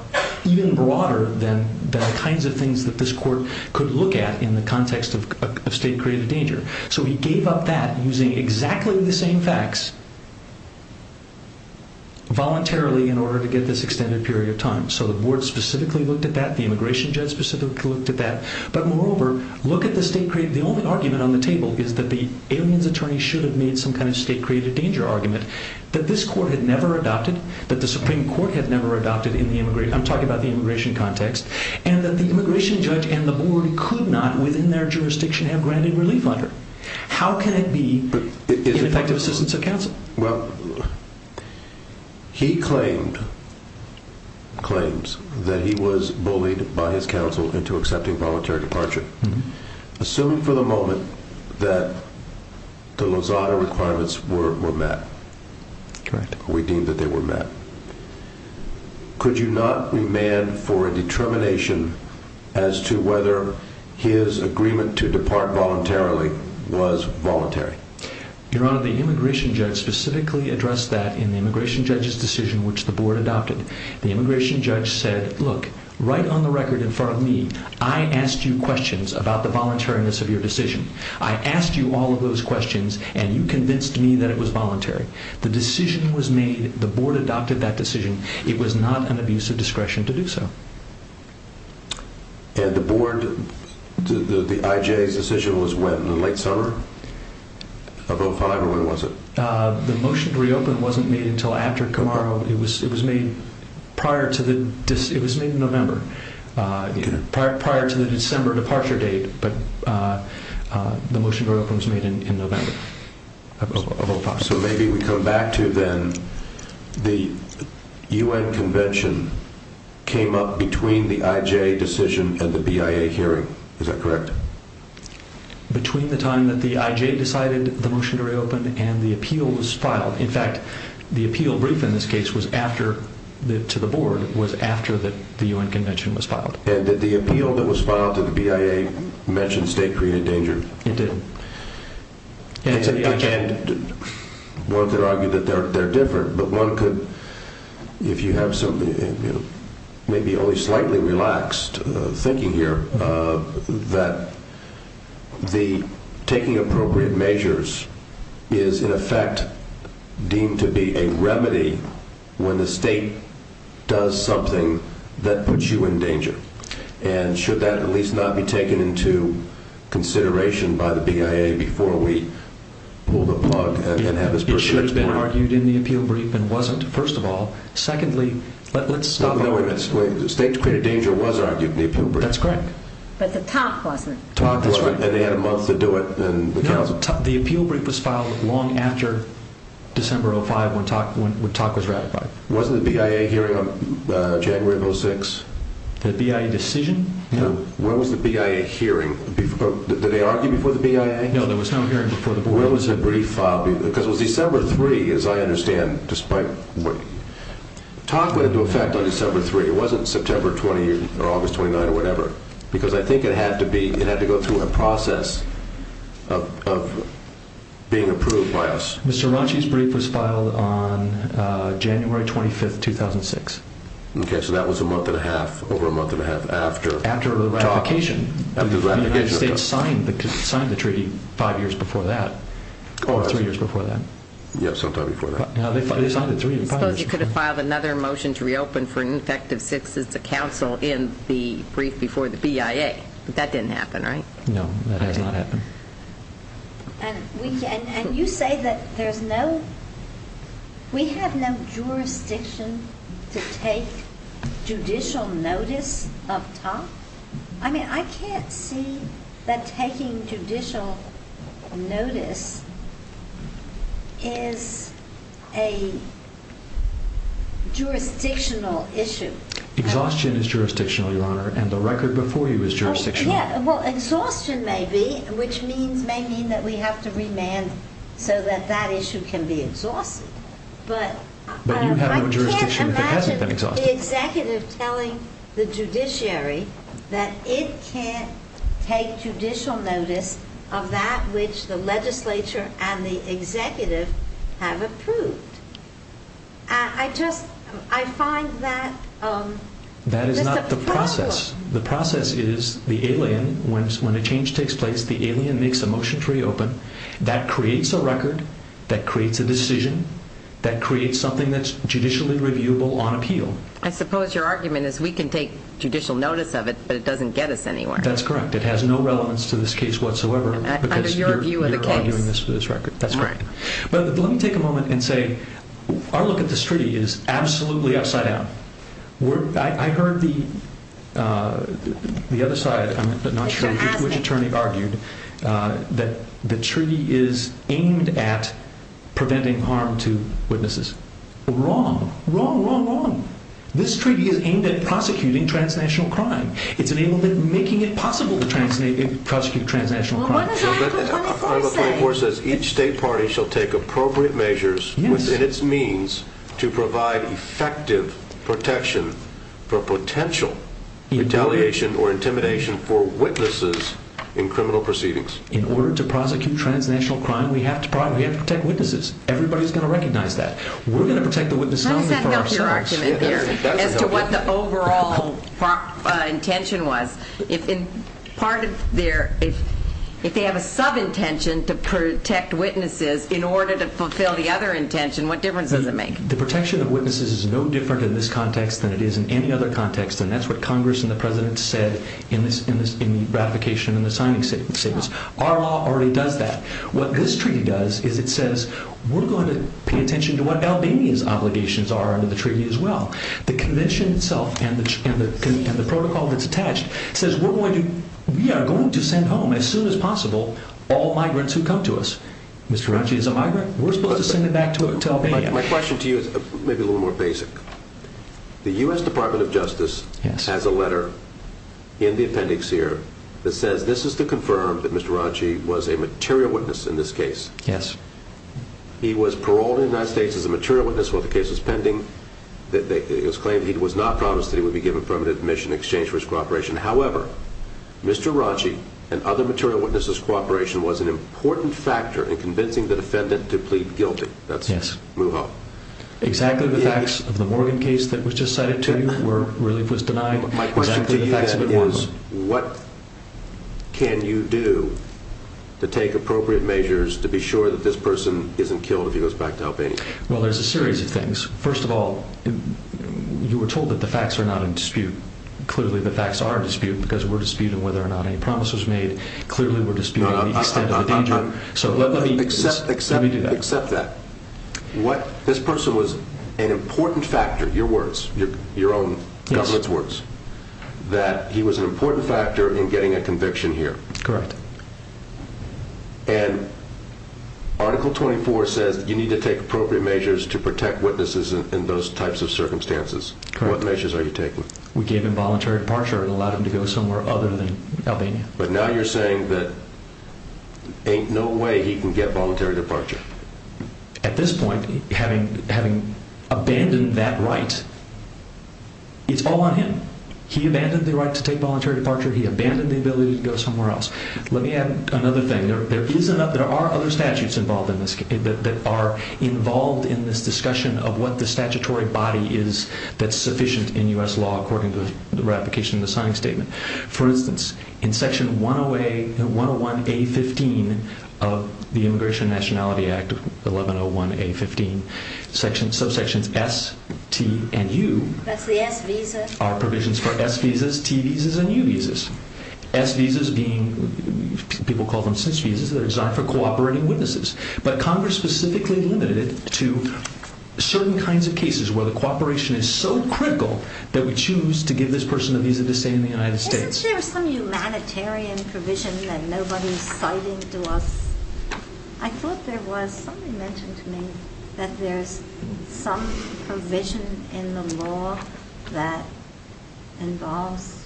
even broader than the kinds of things that this court could look at in the context of state-created danger. So he gave up that using exactly the same facts voluntarily in order to get this extended period of time. So the board specifically looked at that. The immigration judge specifically looked at that. But moreover, look at the state-created... The only argument on the table is that the alien's attorney should have made some kind of state-created danger argument that this court had never adopted, that the Supreme Court had never adopted in the immigration... I'm talking about the immigration context. And that the immigration judge and the board could not, within their jurisdiction, have granted relief under. How can it be ineffective assistance of counsel? Well, he claimed... claims that he was bullied by his counsel into accepting voluntary departure. Assuming for the moment that the Lozada requirements were met... Correct. We deem that they were met. Could you not remand for a determination as to whether his agreement to depart voluntarily was voluntary? Your Honor, the immigration judge specifically addressed that in the immigration judge's decision, which the board adopted. The immigration judge said, Look, right on the record in front of me, I asked you questions about the voluntariness of your decision. I asked you all of those questions, and you convinced me that it was voluntary. The decision was made. The board adopted that decision. It was not an abuse of discretion to do so. And the board... The IJ's decision was when? In the late summer of 2005, or when was it? The motion to reopen wasn't made until after tomorrow. It was made prior to the... It was made in November. Prior to the December departure date, but the motion to reopen was made in November of 2005. So maybe we come back to, then, the UN convention came up between the IJ decision and the BIA hearing. Is that correct? and the appeal was filed. In fact, the appeal brief in this case was after... to the board, was after the UN convention was filed. And did the appeal that was filed to the BIA mention state-created danger? It didn't. One could argue that they're different, but one could, if you have some... maybe only slightly relaxed thinking here, that the taking appropriate measures is, in effect, deemed to be a remedy when the state does something that puts you in danger. And should that at least not be taken into consideration by the BIA before we pull the plug and have this person... It should have been argued in the appeal brief and wasn't, first of all. Secondly, let's stop arguing... State-created danger was argued in the appeal brief. That's correct. But the top wasn't. And they had a month to do it. No, the appeal brief was filed long after December 2005 when TAC was ratified. Wasn't the BIA hearing on January of 2006? The BIA decision? No. When was the BIA hearing? Did they argue before the BIA? No, there was no hearing before the board. When was the brief filed? Because it was December 3, as I understand, despite... TAC went into effect on December 3. It wasn't September 20 or August 29 or whatever. Because I think it had to go through a process of being approved by us. Mr. Ranchi's brief was filed on January 25, 2006. Okay, so that was a month and a half, over a month and a half after TAC... After the ratification. The United States signed the treaty 5 years before that. Or 3 years before that. Yes, sometime before that. Suppose you could have filed another motion to reopen for an effect of 6 as a council in the brief before the BIA. But that didn't happen, right? No, that has not happened. And you say that there's no... We have no jurisdiction to take judicial notice of TAC? I mean, I can't see that taking judicial notice is a jurisdictional issue. Exhaustion is jurisdictional, Your Honor, and the record before you is jurisdictional. Yeah, well, exhaustion may be, which may mean that we have to remand so that that issue can be exhausted. But you have no jurisdiction if it hasn't been exhausted. I can't imagine the executive telling the judiciary that it can't take judicial notice of that which the legislature and the executive have approved. I just... I find that... That is not the process. The process is the alien. When a change takes place, the alien makes a motion to reopen. That creates a record. That creates a decision. That creates something that's judicially reviewable on appeal. I suppose your argument is we can take judicial notice of it, but it doesn't get us anywhere. That's correct. It has no relevance to this case whatsoever. Under your view of the case. You're arguing this for this record. That's correct. But let me take a moment and say our look at this treaty is absolutely upside down. I heard the other side, I'm not sure which attorney argued, that the treaty is aimed at preventing harm to witnesses. Wrong. Wrong, wrong, wrong. This treaty is aimed at prosecuting transnational crime. It's aimed at making it possible to prosecute transnational crime. What does Article 34 say? Article 34 says each state party shall take appropriate measures within its means to provide effective protection for potential retaliation or intimidation for witnesses in criminal proceedings. In order to prosecute transnational crime, we have to protect witnesses. Everybody's going to recognize that. We're going to protect the witnesses only for ourselves. As to what the overall intention was, if they have a sub-intention to protect witnesses in order to fulfill the other intention, what difference does it make? The protection of witnesses is no different in this context than it is in any other context, and that's what Congress and the President said in the ratification and the signing statements. Our law already does that. What this treaty does is it says we're going to pay attention to what Albanians' obligations are under the treaty as well. The convention itself and the protocol that's attached says we are going to send home as soon as possible all migrants who come to us. Mr. Ranchi is a migrant. We're supposed to send him back to Albania. My question to you is maybe a little more basic. The U.S. Department of Justice has a letter in the appendix here that says this is to confirm that Mr. Ranchi was a material witness in this case. Yes. He was paroled in the United States as a material witness while the case was pending. It was claimed he was not promised that he would be given permanent admission in exchange for his cooperation. However, Mr. Ranchi and other material witnesses' cooperation was an important factor in convincing the defendant to plead guilty. Yes. Move on. Exactly the facts of the Morgan case that was just cited to you where relief was denied. My question to you then was what can you do to take appropriate measures to be sure that this person isn't killed if he goes back to Albania? Well, there's a series of things. First of all, you were told that the facts are not in dispute. Clearly the facts are in dispute because we're disputing whether or not any promise was made. Clearly we're disputing the extent of the danger. So let me do that. Accept that. This person was an important factor. Your words, your own government's words, that he was an important factor in getting a conviction here. Correct. And Article 24 says you need to take appropriate measures to protect witnesses in those types of circumstances. Correct. What measures are you taking? We gave him voluntary departure and allowed him to go somewhere other than Albania. But now you're saying that there ain't no way he can get voluntary departure. At this point, having abandoned that right, it's all on him. He abandoned the right to take voluntary departure. He abandoned the ability to go somewhere else. Let me add another thing. There are other statutes that are involved in this discussion of what the statutory body is that's sufficient in U.S. law according to the ratification of the signing statement. For instance, in Section 101A.15 of the Immigration and Nationality Act, 1101A.15, subsections S, T, and U That's the S visas. are provisions for S visas, T visas, and U visas. S visas being what people call them since visas that are designed for cooperating witnesses. But Congress specifically limited it to certain kinds of cases where the cooperation is so critical that we choose to give this person a visa to stay in the United States. Isn't there some humanitarian provision that nobody's citing to us? I thought there was. Somebody mentioned to me that there's some provision in the law that involves...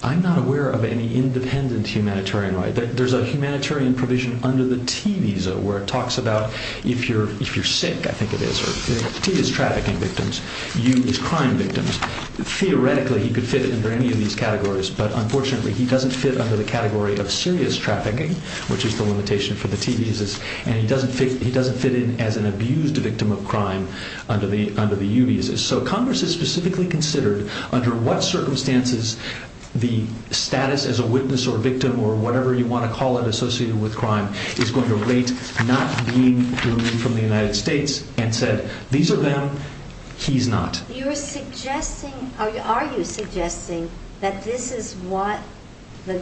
I'm not aware of any independent humanitarian right. There's a humanitarian provision under the T visa where it talks about if you're sick, I think it is, or if T is trafficking victims, U is crime victims. Theoretically, he could fit under any of these categories, but unfortunately, he doesn't fit under the category of serious trafficking, which is the limitation for the T visas, and he doesn't fit in as an abused victim of crime under the U visas. So Congress has specifically considered under what circumstances the status as a witness or victim or whatever you want to call it associated with crime is going to rate not being from the United States and said these are them, he's not. Are you suggesting that this is what the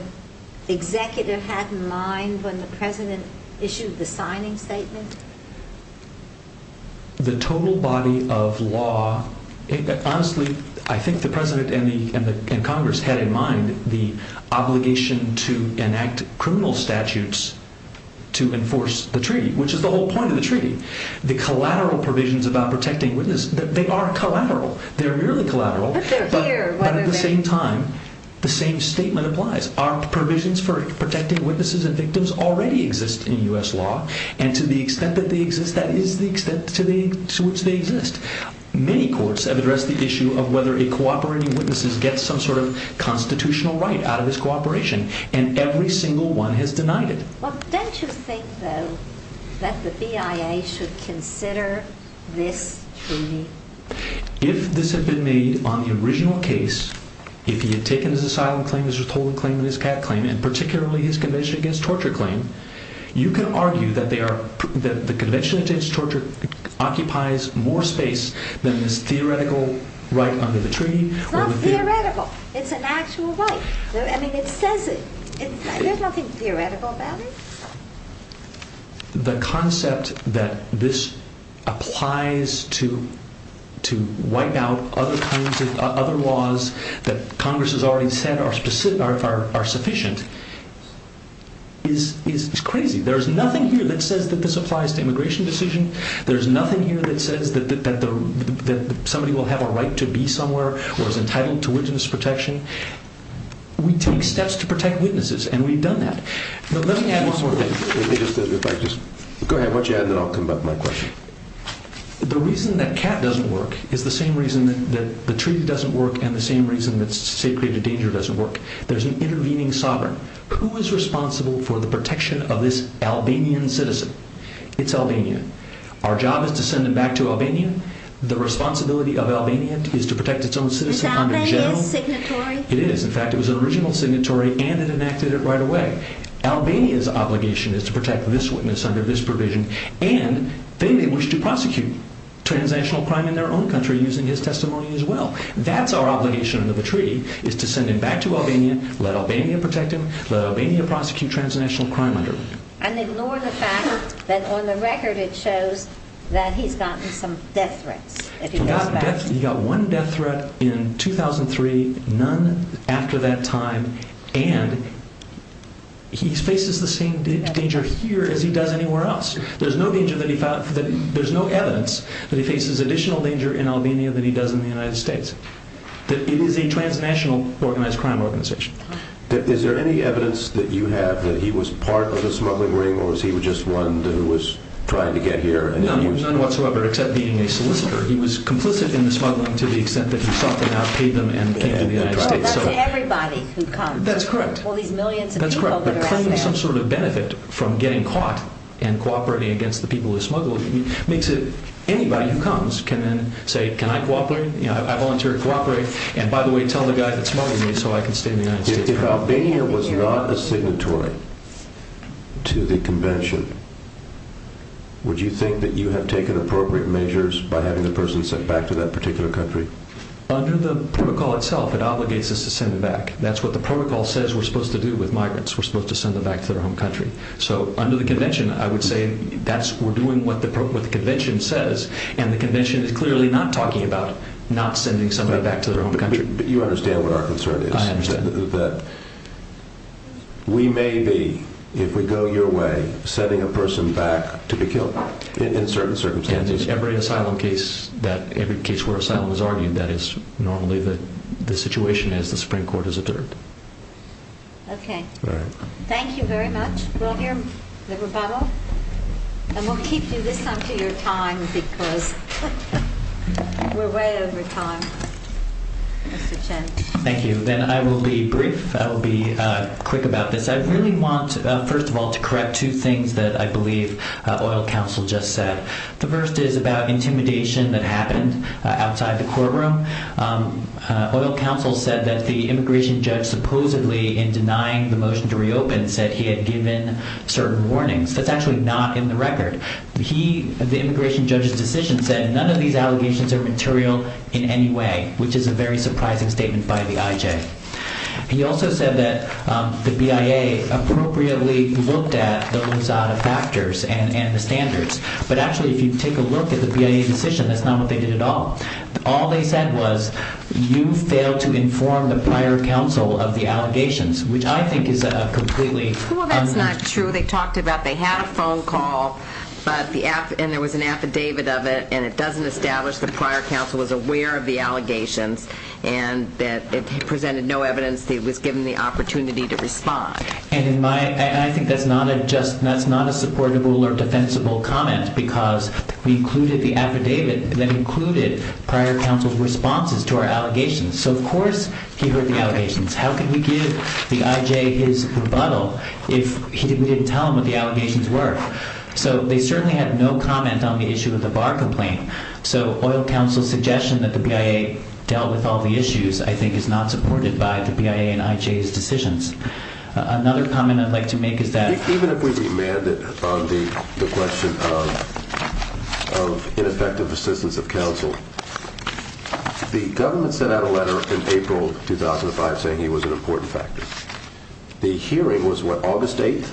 executive had in mind when the president issued the signing statement? The total body of law... Honestly, I think the president and Congress had in mind the obligation to enact criminal statutes to enforce the treaty, which is the whole point of the treaty. The collateral provisions about protecting witnesses, they are collateral, they're really collateral, but at the same time, the same statement applies. Our provisions for protecting witnesses and victims already exist in U.S. law, and to the extent that they exist, that is the extent to which they exist. Many courts have addressed the issue of whether a cooperating witness gets some sort of constitutional right out of this cooperation, and every single one has denied it. Don't you think, though, that the BIA should consider this treaty? If this had been made on the original case, if he had taken his asylum claim, his withholding claim, and his cat claim, and particularly his Convention Against Torture claim, you can argue that the Convention Against Torture occupies more space than this theoretical right under the treaty. It's not theoretical. It's an actual right. I mean, it says it. There's nothing theoretical about it. The concept that this applies to wipe out other laws that Congress has already said are sufficient is crazy. There's nothing here that says that this applies to immigration decision. There's nothing here that says that somebody will have a right to be somewhere or is entitled to witness protection. We take steps to protect witnesses, and we've done that. Let me add one more thing. Go ahead. Why don't you add, and then I'll come back to my question. The reason that cat doesn't work is the same reason that the treaty doesn't work and the same reason that state-created danger doesn't work. There's an intervening sovereign. Who is responsible for the protection of this Albanian citizen? It's Albania. Our job is to send him back to Albania. The responsibility of Albania is to protect its own citizen under general... Is Albania his signatory? It is. In fact, it was an original signatory, and it enacted it right away. Albania's obligation is to protect this witness under this provision, and they may wish to prosecute transactional crime in their own country using his testimony as well. That's our obligation under the treaty, is to send him back to Albania, let Albania protect him, let Albania prosecute transnational crime under him. And ignore the fact that on the record it shows that he's gotten some death threats. He got one death threat in 2003, none after that time, and he faces the same danger here as he does anywhere else. There's no evidence that he faces additional danger in Albania than he does in the United States. It is a transnational organized crime organization. Is there any evidence that you have that he was part of the smuggling ring, or was he just one who was trying to get here? None whatsoever, except being a solicitor. He was complicit in the smuggling to the extent that he sought them out, paid them, and came to the United States. That's everybody who comes. That's correct. All these millions of people that are out there. That's correct. Claiming some sort of benefit from getting caught and cooperating against the people who smuggle makes it anybody who comes can then say, Can I cooperate? I volunteer to cooperate. And by the way, tell the guy that smuggled me so I can stay in the United States. If Albania was not a signatory to the convention, would you think that you have taken appropriate measures by having the person sent back to that particular country? Under the protocol itself, it obligates us to send them back. That's what the protocol says we're supposed to do with migrants. We're supposed to send them back to their home country. So under the convention, I would say we're doing what the convention says, and the convention is clearly not talking about not sending somebody back to their home country. But you understand what our concern is? I understand. That we may be, if we go your way, sending a person back to be killed in certain circumstances. In every asylum case where asylum is argued, that is normally the situation as the Supreme Court has deterred. Okay. All right. Thank you very much. We'll hear the rebuttal, and we'll keep you this time to your time because we're way over time. Mr. Chen. Thank you. Then I will be brief. I will be quick about this. I really want, first of all, to correct two things that I believe oil counsel just said. The first is about intimidation that happened outside the courtroom. Oil counsel said that the immigration judge supposedly in denying the motion to reopen said he had given certain warnings. That's actually not in the record. The immigration judge's decision said none of these allegations are material in any way, which is a very surprising statement by the IJ. He also said that the BIA appropriately looked at those factors and the standards. But actually, if you take a look at the BIA decision, that's not what they did at all. All they said was you failed to inform the prior counsel of the allegations, which I think is a completely un- Well, that's not true. They talked about they had a phone call, and there was an affidavit of it, and it doesn't establish the prior counsel was aware of the allegations and that it presented no evidence that it was given the opportunity to respond. And I think that's not a supportable or defensible comment because we included the affidavit that included prior counsel's responses to our allegations. So, of course, he heard the allegations. How could we give the IJ his rebuttal if we didn't tell him what the allegations were? So they certainly had no comment on the issue of the bar complaint. So oil counsel's suggestion that the BIA dealt with all the issues, I think, is not supported by the BIA and IJ's decisions. Another comment I'd like to make is that- the question of ineffective assistance of counsel. The government sent out a letter in April 2005 saying he was an important factor. The hearing was, what, August 8th?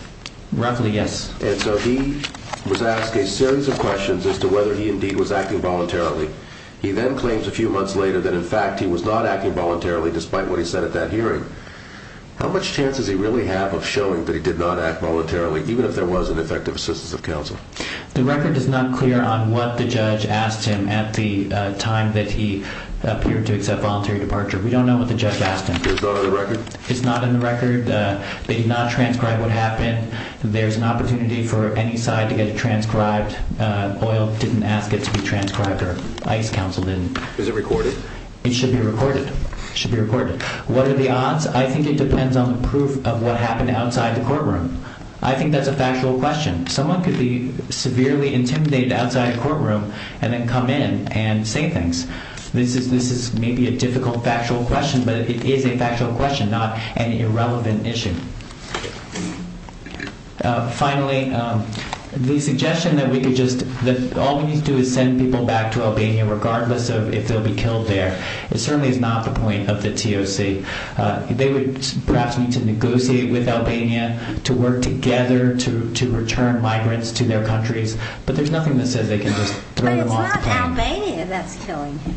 Roughly, yes. And so he was asked a series of questions as to whether he indeed was acting voluntarily. He then claims a few months later that, in fact, he was not acting voluntarily despite what he said at that hearing. The record is not clear on what the judge asked him at the time that he appeared to accept voluntary departure. We don't know what the judge asked him. It's not in the record? It's not in the record. They did not transcribe what happened. There's an opportunity for any side to get it transcribed. Oil didn't ask it to be transcribed or ICE counsel didn't. Is it recorded? It should be recorded. It should be recorded. What are the odds? I think it depends on the proof of what happened outside the courtroom. I think that's a factual question. Someone could be severely intimidated outside a courtroom and then come in and say things. This is maybe a difficult factual question, but it is a factual question, not an irrelevant issue. Finally, the suggestion that all we need to do is send people back to Albania regardless of if they'll be killed there, it certainly is not the point of the TOC. They would perhaps need to negotiate with Albania to work together to return migrants to their countries, but there's nothing that says they can just throw them off the plane. But it's not Albania that's killing him.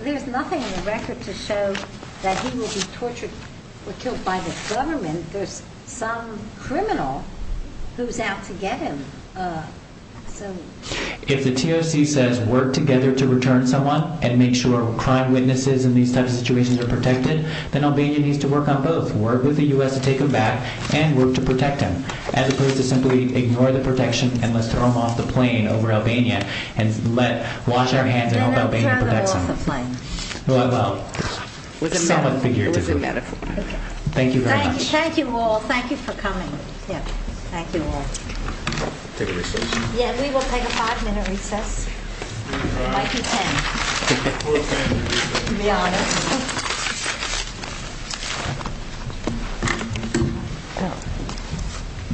There's nothing in the record to show that he will be tortured or killed by the government. There's some criminal who's out to get him. If the TOC says work together to return someone and make sure crime witnesses in these types of situations are protected, then Albania needs to work on both. Work with the U.S. to take him back and work to protect him as opposed to simply ignore the protection and let's throw him off the plane over Albania and wash our hands and hope Albania protects him. Thank you very much. Thank you all. Thank you for coming. We will take a five-minute recess.